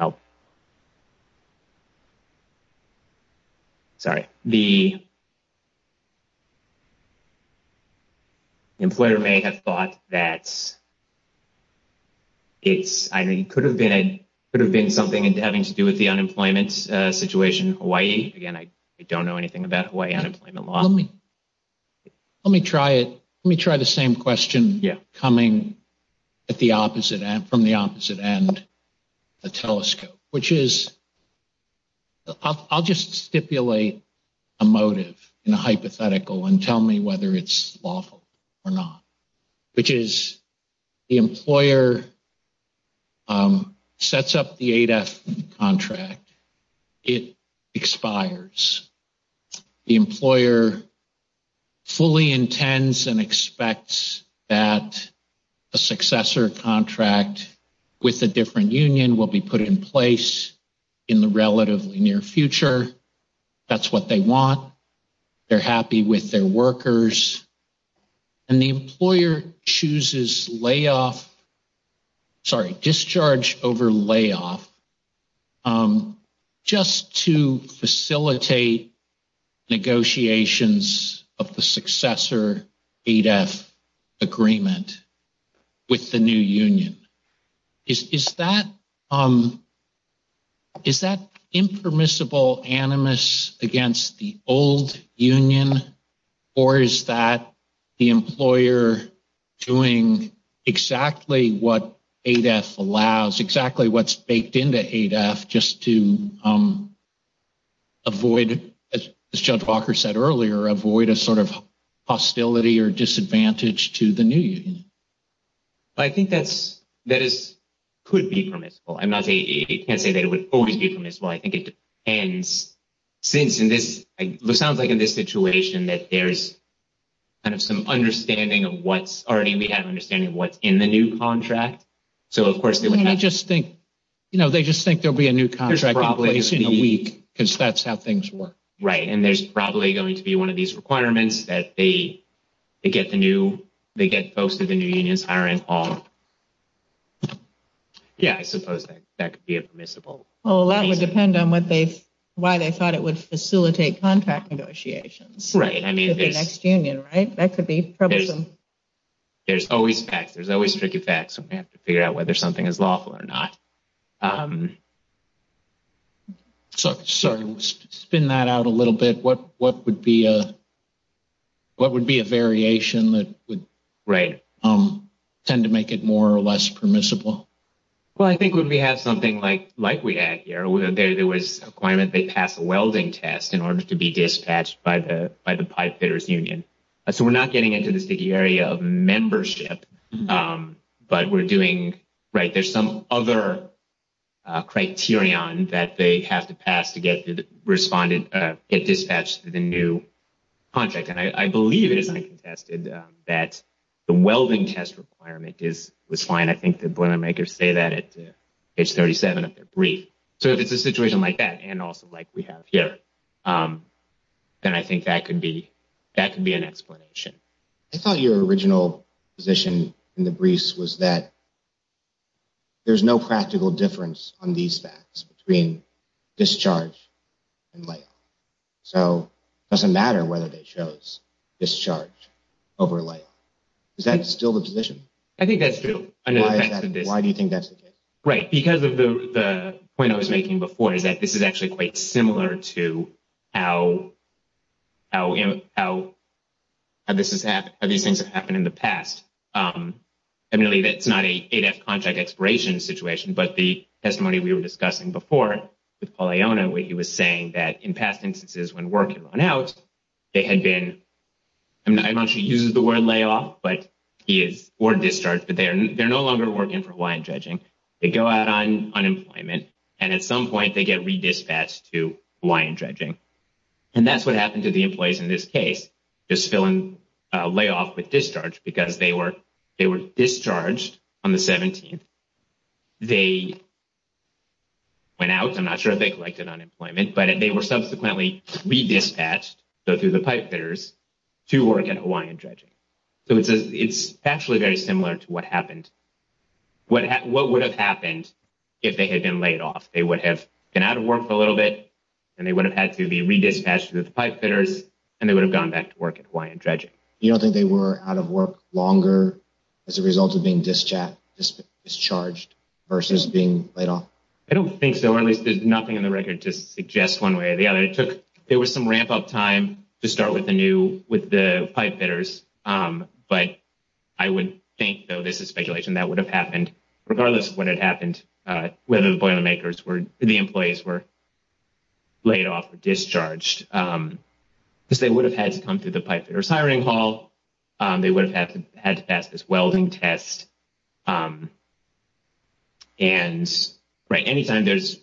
Oh. Sorry. The employer may have thought that it could have been something having to do with the unemployment situation in Hawaii. Again, I don't know anything about Hawaii unemployment law. Let me try it. Let me try the same question coming at the opposite end, from the opposite end of the telescope, which is... I'll just stipulate a motive in a hypothetical and tell me whether it's lawful or not, which is the employer sets up the ADEF contract, it expires. The employer fully intends and expects that a successor contract with a different union will be put in place in the relatively near future. That's what they want. They're happy with their workers. And the employer chooses layoff... Sorry, discharge over layoff just to facilitate negotiations of the successor ADEF agreement with the new union. Is that impermissible animus against the old union, or is that the employer doing exactly what ADEF allows, exactly what's baked into ADEF just to avoid, as Judge Walker said earlier, avoid a sort of hostility or disadvantage to the new union? I think that could be permissible. I'm not saying... You can't say that it would always be permissible. I think it depends. Since in this... It sounds like in this situation that there's kind of some understanding of what's already... We have an understanding of what's in the new contract. So, of course, they would have... They just think there'll be a new contract in place in a week because that's how things work. Right. And there's probably going to be one of these requirements that they get the new... They get folks to the new unions hiring on... Yeah, I suppose that could be permissible. Well, that would depend on what they... Why they thought it would facilitate contract negotiations. Right, I mean, there's... With the next union, right? That could be troublesome. There's always facts. There's always tricky facts. We have to figure out whether something is lawful or not. Sorry, spin that out a little bit. What would be a variation that would... Right. ...tend to make it more or less permissible? Well, I think when we have something like we had here, there was a claim that they passed a welding test in order to be dispatched by the pipefitters union. So, we're not getting into the sticky area of membership, but we're doing... Right, there's some other criterion that they have to pass to get the respondent... Get dispatched to the new contract. And I believe it is uncontested that the welding test requirement was fine. I think the Boilermakers say that at page 37 of their brief. So, if it's a situation like that and also like we have here, then I think that could be an explanation. I thought your original position in the briefs was that there's no practical difference on these facts between discharge and layoff. So, it doesn't matter whether they chose discharge over layoff. Is that still the position? I think that's true. Why do you think that's the case? Right, because of the point I was making before is that this is actually quite similar to how these things have happened in the past. I believe it's not an ADEF contract expiration situation, but the testimony we were discussing before with Paul Iona, where he was saying that in past instances when work had run out, they had been... I don't know if he uses the word layoff, but he is... Or discharge, but they're no longer working for Hawaiian Dredging. They go out on unemployment, and at some point, they get re-dispatched to Hawaiian Dredging. And that's what happened to the employees in this case, just filling layoff with discharge, because they were discharged on the 17th. They went out. I'm not sure if they collected unemployment, but they were subsequently re-dispatched, so through the pipefitters, to work at Hawaiian Dredging. So, it's actually very similar to what happened. What would have happened if they had been laid off? They would have been out of work for a little bit, and they would have had to be re-dispatched to the pipefitters, and they would have gone back to work at Hawaiian Dredging. You don't think they were out of work longer as a result of being discharged versus being laid off? I don't think so, or at least there's nothing in the record to suggest one way or the other. It took... There was some speculation that would have happened, regardless of what had happened, whether the boilermakers were, the employees were laid off or discharged, because they would have had to come through the pipefitters' hiring hall. They would have had to pass this welding test, and anytime there's,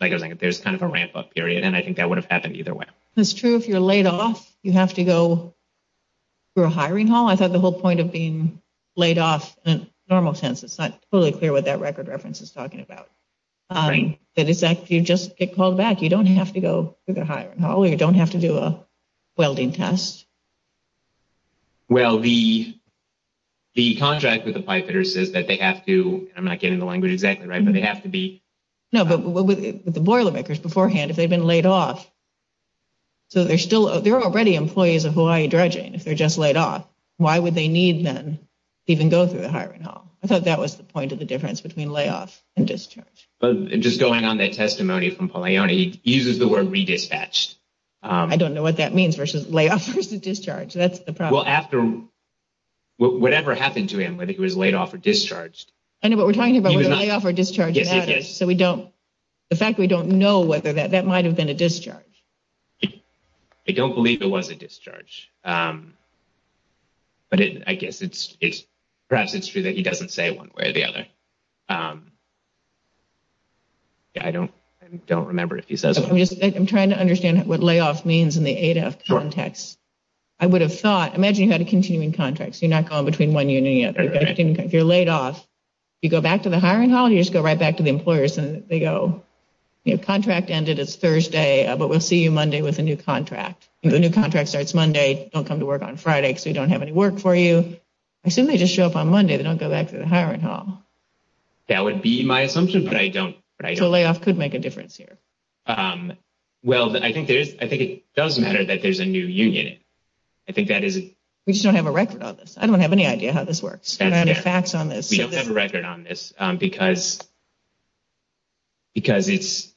like I was saying, there's kind of a ramp-up period, and I think that would have happened either way. That's true. If you're laid off, you have to go through a hiring hall. I thought the point of being laid off in a normal sense, it's not totally clear what that record reference is talking about. Right. That is, if you just get called back, you don't have to go through the hiring hall, or you don't have to do a welding test. Well, the contract with the pipefitters says that they have to, and I'm not getting the language exactly right, but they have to be... No, but with the boilermakers beforehand, if they'd been laid off, so they're already employees of Hawaii Dredging, if they're just laid off, why would they need, then, to even go through the hiring hall? I thought that was the point of the difference between layoff and discharge. Just going on that testimony from Paul Ione, he uses the word redispatched. I don't know what that means versus layoff versus discharge. That's the problem. Well, after whatever happened to him, whether he was laid off or discharged... I know, but we're talking about whether layoff or discharge matters, so we don't, the fact we don't know whether that, that might have been a discharge. I don't believe it was a discharge, but I guess it's, perhaps it's true that he doesn't say one way or the other. Yeah, I don't, I don't remember if he says that. I'm just, I'm trying to understand what layoff means in the ADEF context. I would have thought, imagine you had a continuing contract, so you're not going between one union yet. If you're laid off, you go back to the hiring hall, you just go right back to the employers and they go, you know, contract ended, it's Thursday, but we'll see you Monday with a new contract. The new contract starts Monday, don't come to work on Friday because we don't have any work for you. I assume they just show up on Monday, they don't go back to the hiring hall. That would be my assumption, but I don't... So layoff could make a difference here. Well, I think there's, I think it does matter that there's a new union. I think that is... We just don't have a record on this. I don't have any idea how this works. We don't have any facts on this. We don't have a record on this because it's...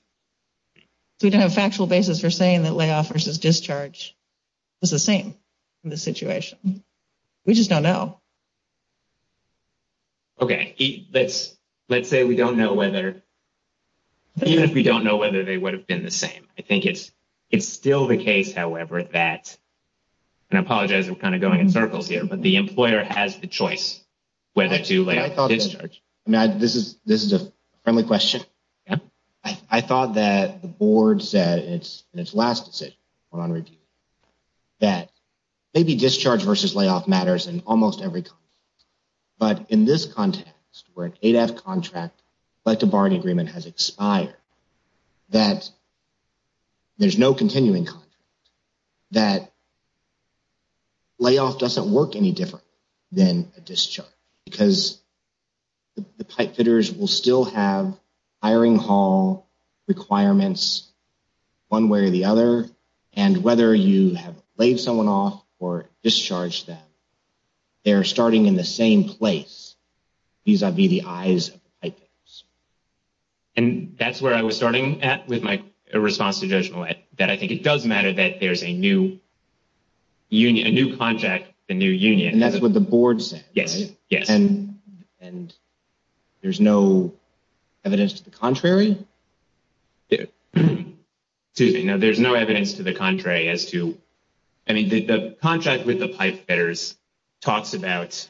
We don't have a factual basis for saying that layoff versus discharge is the same in this situation. We just don't know. Okay. Let's say we don't know whether, even if we don't know whether they would have been the same. I think it's still the case, however, that, and I apologize, I'm kind of going in circles here, but the employer has the choice whether to layoff or discharge. I mean, this is a friendly question. I thought that the board said in its last decision on review that maybe discharge versus layoff matters in almost every context. But in this context, where an 8F contract, like the Barney Agreement, has expired, that there's no continuing contract, that layoff doesn't work any different than a discharge because the pipefitters will still have hiring hall requirements one way or the other. And whether you have laid someone off or discharged them, they're starting in the same place vis-a-vis the eyes of the pipefitters. And that's where I was starting at with my response to Judge Millett, that I think it does matter that there's a new union, a new contract, a new union. And that's what the board said. Yes. Yes. And there's no evidence to the contrary? Excuse me. No, there's no evidence to the contrary as to, I mean, the contract with the pipefitters talks about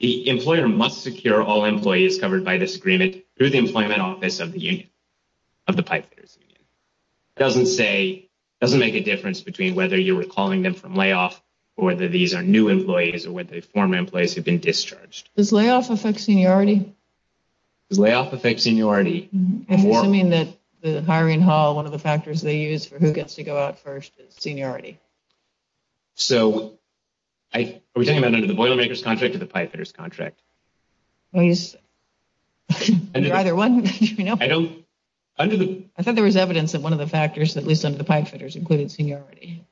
the employer must secure all employees covered by this agreement through the employment office of the union, of the pipefitters union. It doesn't say, doesn't make a difference between whether you were calling them from layoff or whether these are new employees or whether they're former employees who've been discharged. Does layoff affect seniority? Does layoff affect seniority? I'm assuming that the hiring hall, one of the factors they use for who gets to go out first is seniority. So are we talking about under the Boilermakers contract or the pipefitters contract? Well, you're either one. I thought there was evidence that one of the factors, at least under the pipefitters, included seniority.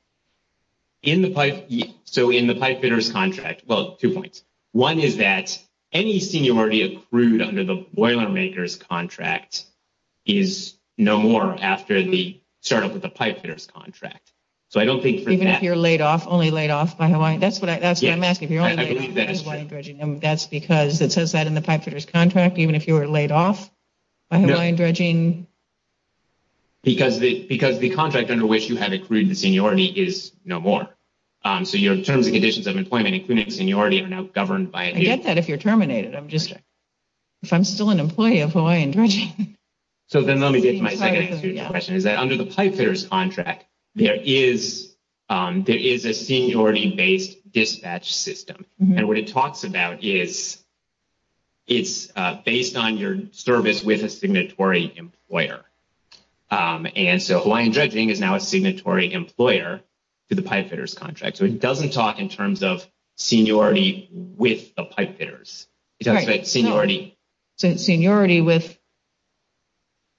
So in the pipefitters contract, well, two points. One is that any seniority accrued under the Boilermakers contract is no more after the startup with the pipefitters contract. So I don't think for that. Even if you're laid off, only laid off by Hawaiian, that's what I'm asking. I believe that is true. And that's because it says that in the pipefitters contract, even if you were laid off by Hawaiian dredging. Because the contract under which you have accrued the seniority is no more. So your terms and conditions of employment, including seniority, are now governed by a new. I get that if you're terminated. I'm just, if I'm still an employee of Hawaiian dredging. So then let me get to my second question, is that under the pipefitters contract, there is a seniority-based dispatch system. And what it talks about is, it's based on your service with a signatory employer. And so Hawaiian dredging is now a signatory employer to the pipefitters contract. So it doesn't talk in terms of seniority with the pipefitters. It talks about seniority. Seniority with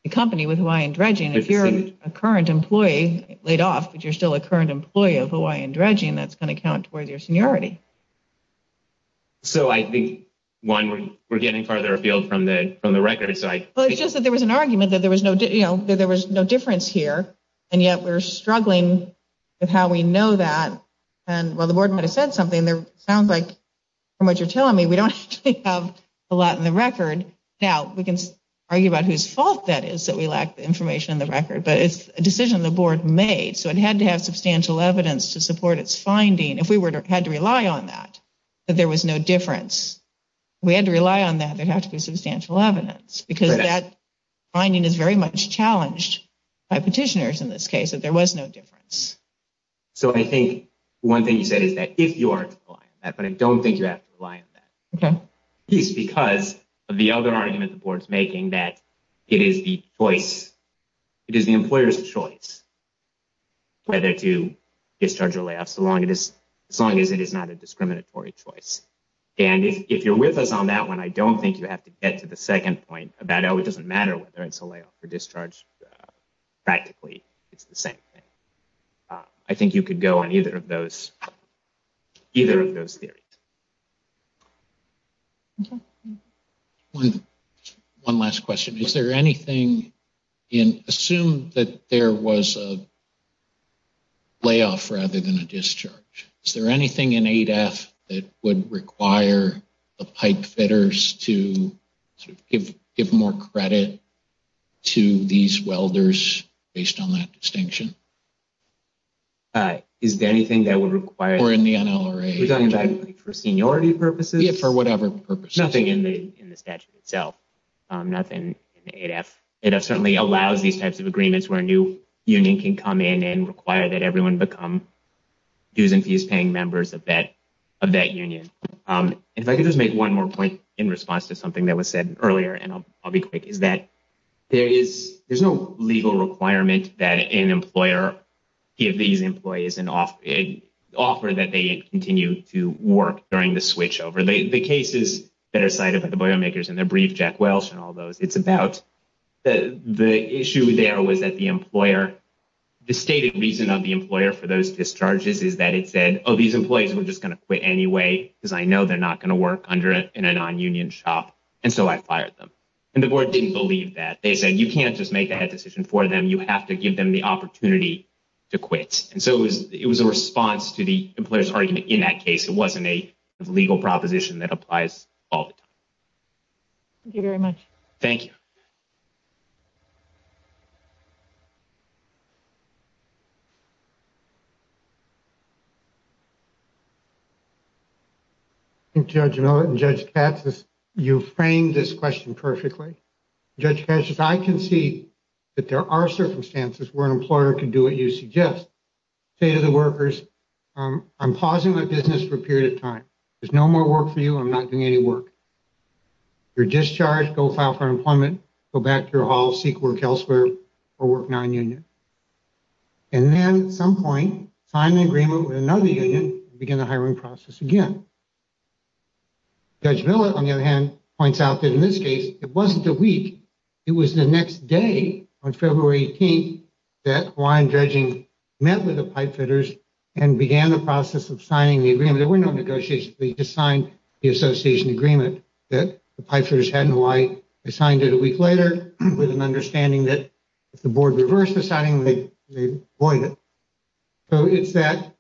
the company, with Hawaiian dredging. If you're a current employee, laid off, but you're still a current employee of Hawaiian dredging, that's going to count towards your seniority. So I think, one, we're getting farther afield from the record. So it's just that there was an argument that there was no difference here. And yet we're struggling with how we know that. And while the board might have said something, it sounds like from what you're telling me, we don't actually have a lot in the record. Now, we can argue about whose fault that is, that we lack the information in the record. But it's a decision the board made. So it had to have substantial evidence to support its finding. If we had to rely on that, that there was no difference. If we had to rely on that, there'd have to be substantial evidence. Because that finding is very much challenged by petitioners in this case, that there was no difference. So I think one thing you said is that if you are to rely on that, but I don't think you have to rely on that. It's because of the other argument the board's making, that it is the choice. It is the employer's choice whether to discharge a layoff, so long as it is not a discriminatory choice. And if you're with us on that one, I don't think you have to get to the second point about, oh, it doesn't matter whether it's a layoff or discharge. Practically, it's the same thing. I think you could go on either of those theories. Okay. One last question. Is there anything in... Assume that there was a layoff rather than a discharge. Is there anything in 8F that would require the pipe fitters to give more credit to these welders based on that distinction? Is there anything that would require... Or in the NLRA... We're talking about for seniority purposes? For whatever purpose. Nothing in the statute itself. Nothing in 8F. 8F certainly allows these types of agreements where a new union can come in and require that everyone become dues and fees paying members of that union. If I could just make one more point in response to something that was said earlier, and I'll be quick, is that there's no legal requirement that an employer give these employees an offer that they continue to work during the switchover. The cases that are cited by the biomakers in their brief, Jack Welsh and all those, it's about the issue there was that the employer... The stated reason of the employer for those discharges is that it said, oh, these employees were just going to quit anyway because I know they're not going to work in a non-union shop. And so I fired them. And the board didn't believe that. They said, you can't just make that decision for them. You have to give them the opportunity to quit. And so it was a response to the employer's argument in that case. It wasn't a legal proposition that applies all the time. Thank you very much. Thank you. Thank you, Judge Millett and Judge Katsas. You framed this question perfectly. Judge Katsas, I can see that there are circumstances where an employer can do what you suggest. Say to the workers, I'm pausing my business for a period of time. There's no more work for you. I'm not doing any work. You're discharged. Go file for unemployment. Go back to your hall. Seek work elsewhere or work non-union. And then at some point, sign an agreement with another union. Begin the hiring process again. Judge Millett, on the other hand, points out that in this case, it wasn't the week. It was the next day on February 18th that Hawaiian Dredging met with the pipefitters and began the process of signing the agreement. There were no negotiations. They just signed the association agreement that the pipefitters had in Hawaii. They signed it a week later with an understanding that if the board reversed the signing, they'd void it. So it's that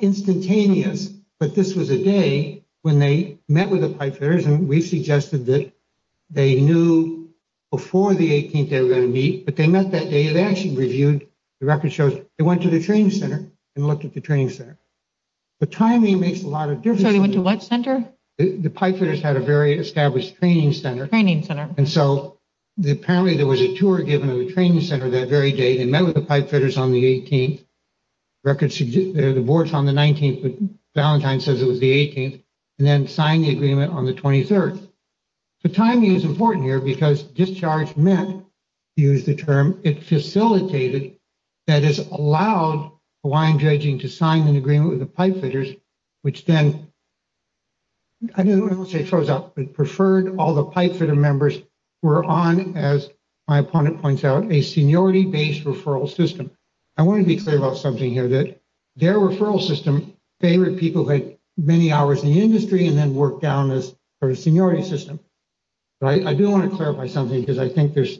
instantaneous. But this was a day when they met with the pipefitters. We suggested that they knew before the 18th they were going to meet. But they met that day. They actually reviewed the record shows. They went to the training center and looked at the training center. The timing makes a lot of difference. So they went to what center? The pipefitters had a very established training center. Training center. And so apparently there was a tour given at the training center that very day. They met with the pipefitters on the 18th. The board's on the 19th, but Valentine says it was the 18th. And then signed the agreement on the 23rd. The timing is important here because discharge meant, to use the term, it facilitated, that is allowed Hawaiian judging to sign an agreement with the pipefitters, which then, I don't want to say it froze up, but preferred all the pipefitter members who were on, as my opponent points out, a seniority-based referral system. I want to be clear about something here, that their referral system favored people who had many hours in the industry, and then worked down this sort of seniority system. But I do want to clarify something, because I think there's,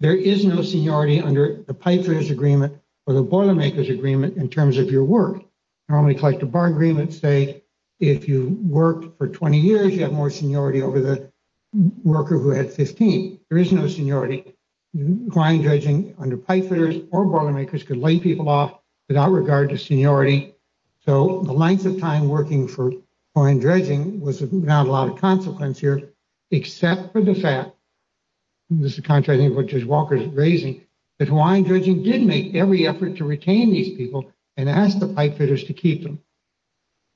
there is no seniority under the pipefitters agreement or the boilermakers agreement in terms of your work. Normally a collective bargaining agreement would say, if you worked for 20 years, you have more seniority over the worker who had 15. There is no seniority. Hawaiian judging under pipefitters or boilermakers could lay people off without regard to seniority. So the length of time working for Hawaiian judging was not a lot of consequence here, except for the fact, this is contrary to what Judge Walker is raising, that Hawaiian judging did make every effort to retain these people and ask the pipefitters to keep them.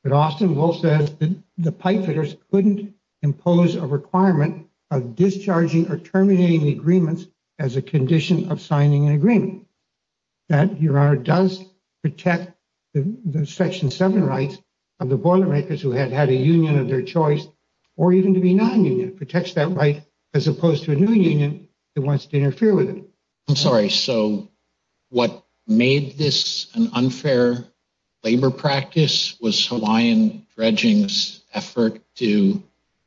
But Austin Bull says that the pipefitters couldn't impose a requirement that your honor does protect the section seven rights of the boilermakers who had had a union of their choice, or even to be non-union, protects that right, as opposed to a new union that wants to interfere with it. I'm sorry, so what made this an unfair labor practice was Hawaiian dredging's effort to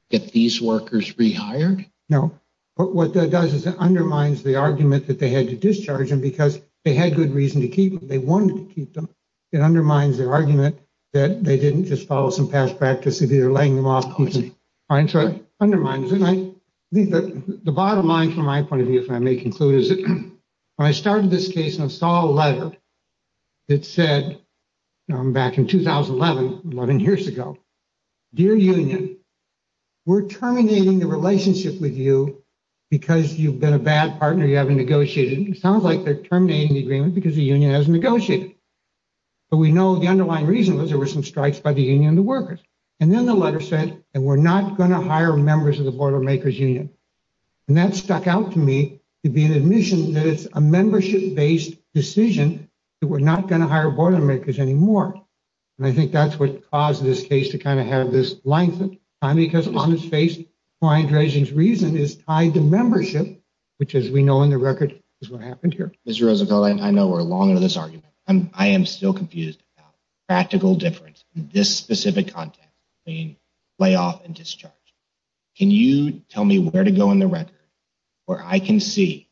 get these workers rehired? No, but what that does is it undermines the argument that they had to discharge them because they had good reason to keep them. They wanted to keep them. It undermines their argument that they didn't just follow some past practice of either laying them off or keeping them. All right, so it undermines, and I think that the bottom line from my point of view, if I may conclude, is that when I started this case and I saw a letter that said, back in 2011, 11 years ago, dear union, we're terminating the relationship with you because you've been a bad partner, you haven't negotiated. It sounds like they're terminating the agreement because the union hasn't negotiated. But we know the underlying reason was there were some strikes by the union and the workers. And then the letter said that we're not going to hire members of the border makers union. And that stuck out to me to be an admission that it's a membership-based decision that we're not going to hire border makers anymore. And I think that's what caused this case to kind of have this length of time because on its face, Hawaiian dredging's reason is tied to membership, which as we know in the record is what happened here. Mr. Roosevelt, I know we're long into this argument. I am still confused about the practical difference in this specific context between layoff and discharge. Can you tell me where to go in the record where I can see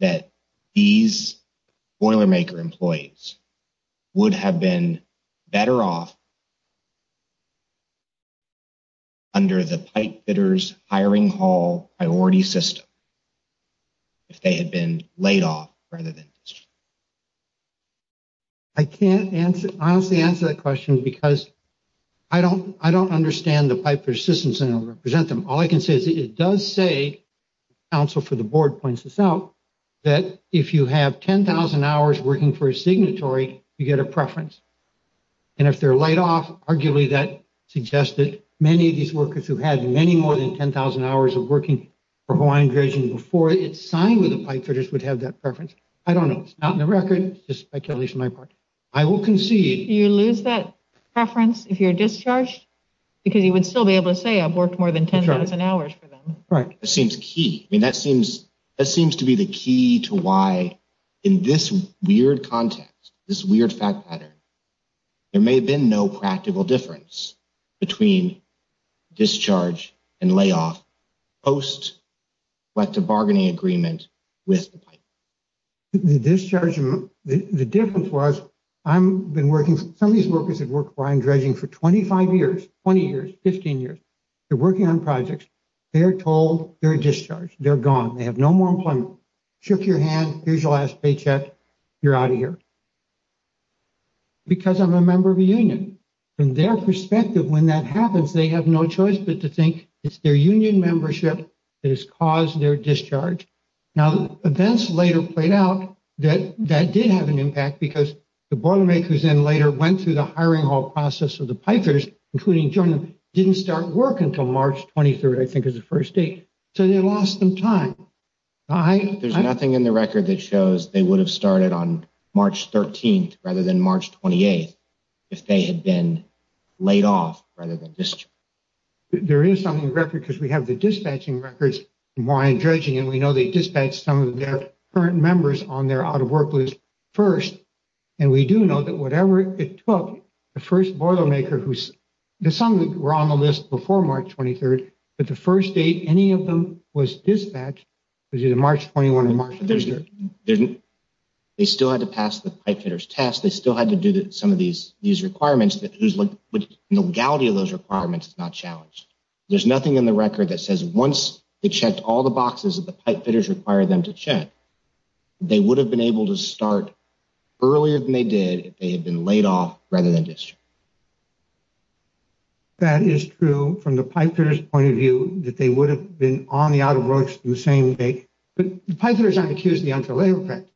that these boiler maker employees would have been better off under the pipe fitters hiring hall priority system? If they had been laid off rather than discharged? I can't honestly answer that question because I don't understand the pipe persistence and I'll represent them. All I can say is it does say, the counsel for the board points this out, that if you have 10,000 hours working for a signatory, you get a preference. And if they're laid off, arguably that suggests that many of these workers who had many more than 10,000 hours of working for Hawaiian dredging before it's signed with the pipe fitters would have that preference. I don't know. It's not in the record. It's just speculation on my part. I will concede. You lose that preference if you're discharged because you would still be able to say, I've worked more than 10,000 hours for them. Right. It seems key. I mean, that seems to be the key to why in this weird context, this weird fact pattern, there may have been no practical difference between discharge and layoff post what the bargaining agreement with the pipe. The discharge, the difference was I've been working, some of these workers have worked Hawaiian dredging for 25 years, 20 years, 15 years. They're working on projects. They're told they're discharged. They're gone. They have no more employment. Shook your hand. Here's your last paycheck. You're out of here. Because I'm a member of a union. From their perspective, when that happens, they have no choice but to think it's their union membership that has caused their discharge. Now, events later played out that that did have an impact because the boilermakers in later went through the hiring hall process of the pipers, including Jordan, didn't start work until March 23rd, I think is the first date. So they lost some time. There's nothing in the record that shows they would have started on March 13th rather than March 28th if they had been laid off rather than discharged. There is something in the record because we have the dispatching records from Hawaiian dredging, and we know they dispatched some of their current members on their out-of-work list first. And we do know that whatever it took, the first boilermaker who's, some were on the list before March 23rd, but the first date any of them was dispatched was either March 21 or March 23rd. They still had to pass the pipe fitters test. They still had to do some of these requirements, but the legality of those requirements is not challenged. There's nothing in the record that says once they checked all the boxes that the pipe fitters required them to check, they would have been able to start earlier than they did if they had been laid off rather than discharged. That is true from the pipe fitters' point of view, that they would have been on the out-of-works the same day. But the pipe fitters aren't accused of the unfair labor effect.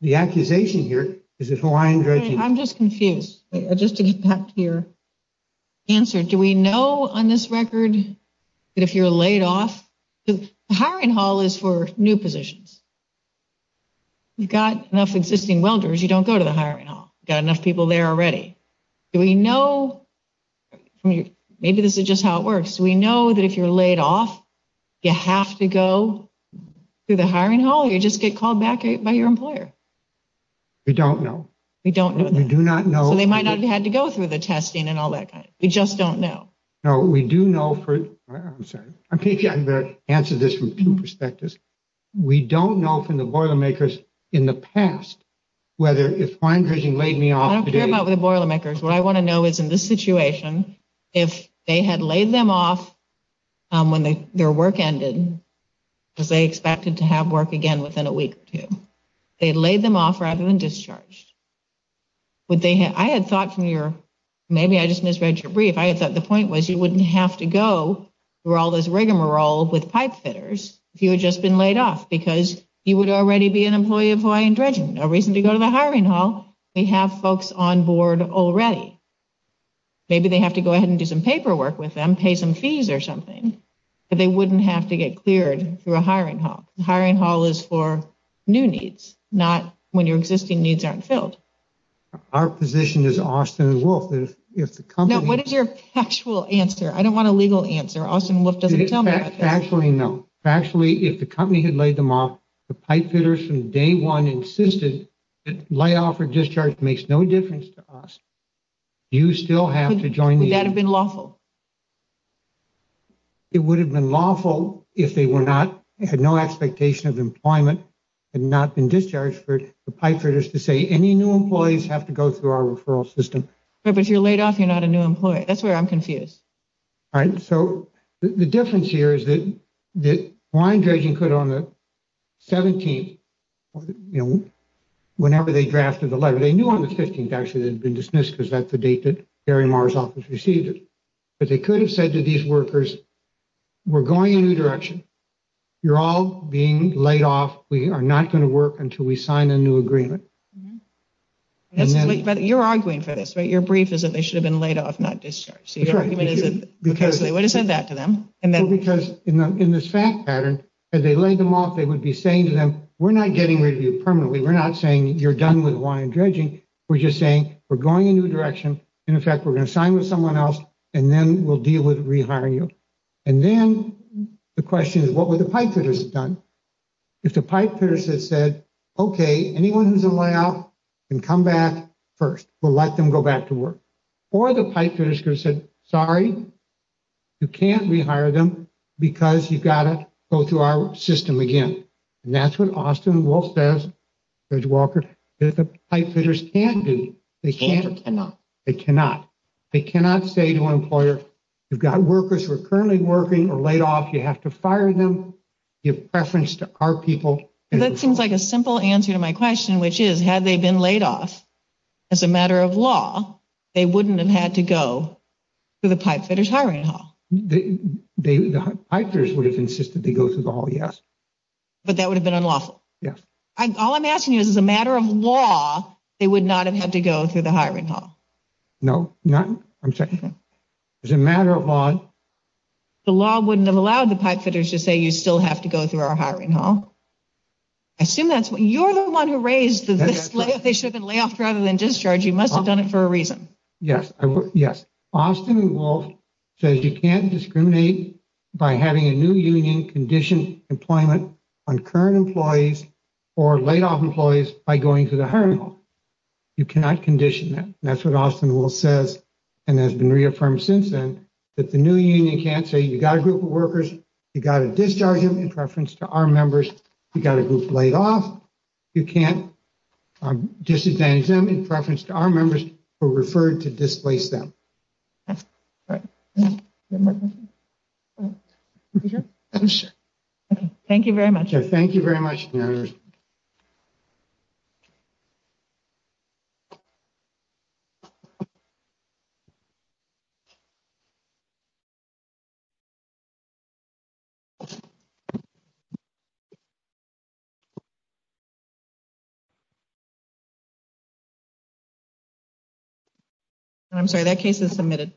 The accusation here is the Hawaiian dredging. I'm just confused. Just to get back to your answer, do we know on this record that if you're laid off, the hiring hall is for new positions. You've got enough existing welders, you don't go to the hiring hall. You've got enough people there already. Do we know, maybe this is just how it works, do we know that if you're laid off, you have to go through the hiring hall or you just get called back by your employer? We don't know. We don't know. We do not know. So they might not have had to go through the testing and all that kind of thing. We just don't know. No, we do know for, I'm sorry, I'm going to answer this from two perspectives. We don't know from the boilermakers in the past whether if Hawaiian Dredging laid me off. I don't care about the boilermakers. What I want to know is in this situation, if they had laid them off when their work ended, because they expected to have work again within a week or two, if they had laid them off rather than discharged, would they have, I had thought from your, maybe I just misread your brief, I had thought the point was you wouldn't have to go through all this rigmarole with pipe fitters if you had just been laid off because you would already be an employee of Hawaiian Dredging. No reason to go to the hiring hall. We have folks on board already. Maybe they have to go ahead and do some paperwork with them, pay some fees or something, but they wouldn't have to get cleared through a hiring hall. The hiring hall is for new needs, not when your existing needs aren't filled. Our position is, Austin and Wolf, if the company... No, what is your factual answer? I don't want a legal answer. Austin and Wolf doesn't tell me about this. Factually, no. Factually, if the company had laid them off, the pipe fitters from day one insisted that layoff or discharge makes no difference to us. You still have to join the... Would that have been lawful? It would have been lawful if they were not, had no expectation of employment, had not been discharged for the pipe fitters to say any new employees have to go through our referral system. Right, but if you're laid off, you're not a new employee. That's where I'm confused. All right. So the difference here is that Hawaiian Dredging could on the 17th, you know, whenever they drafted the letter, they knew on the 15th actually they'd been dismissed because that's the date that Harry Marr's office received it. But they could have said to these workers, we're going a new direction. You're all being laid off. We are not going to work until we sign a new agreement. You're arguing for this, right? Your brief is that they should have been laid off, not discharged. So your argument is that they would have said that to them. Well, because in this fact pattern, as they laid them off, they would be saying to them, we're not getting rid of you permanently. We're not saying you're done with Hawaiian Dredging. We're just saying we're going a new direction. In fact, we're going to sign with someone else and then we'll deal with rehiring you. And then the question is, what would the pipefitters have done? If the pipefitters had said, okay, anyone who's a layoff can come back first. We'll let them go back to work. Or the pipefitters could have said, sorry, you can't rehire them because you've got to go through our system again. And that's what Austin Wolf says, Judge Walker, that the pipefitters can't do. They can't or cannot. They cannot. They cannot say to an employer, you've got workers who are currently working or laid off. You have to fire them. Give preference to our people. That seems like a simple answer to my question, which is, had they been laid off as a matter of law, they wouldn't have had to go to the pipefitters hiring hall. The pipefitters would have insisted they go through the hall, yes. But that would have been unlawful. Yes. All I'm asking you is, as a matter of law, they would not have had to go through the hiring hall? No, not, I'm sorry. As a matter of law. The law wouldn't have allowed the pipefitters to say you still have to go through our hiring hall. I assume that's what, you're the one who raised the, they should have been layoff rather than discharge. You must have done it for a reason. Yes, yes. Austin Wolf says you can't discriminate by having a new union condition employment on current employees or laid off employees by going to the hiring hall. You cannot condition them. That's what Austin Wolf says, and has been reaffirmed since then, that the new union can't say you got a group of workers, you got to discharge them in preference to our members. You got a group laid off. You can't disadvantage them in preference to our members who are referred to displace them. Thank you very much. Thank you very much. I'm sorry, that case is submitted.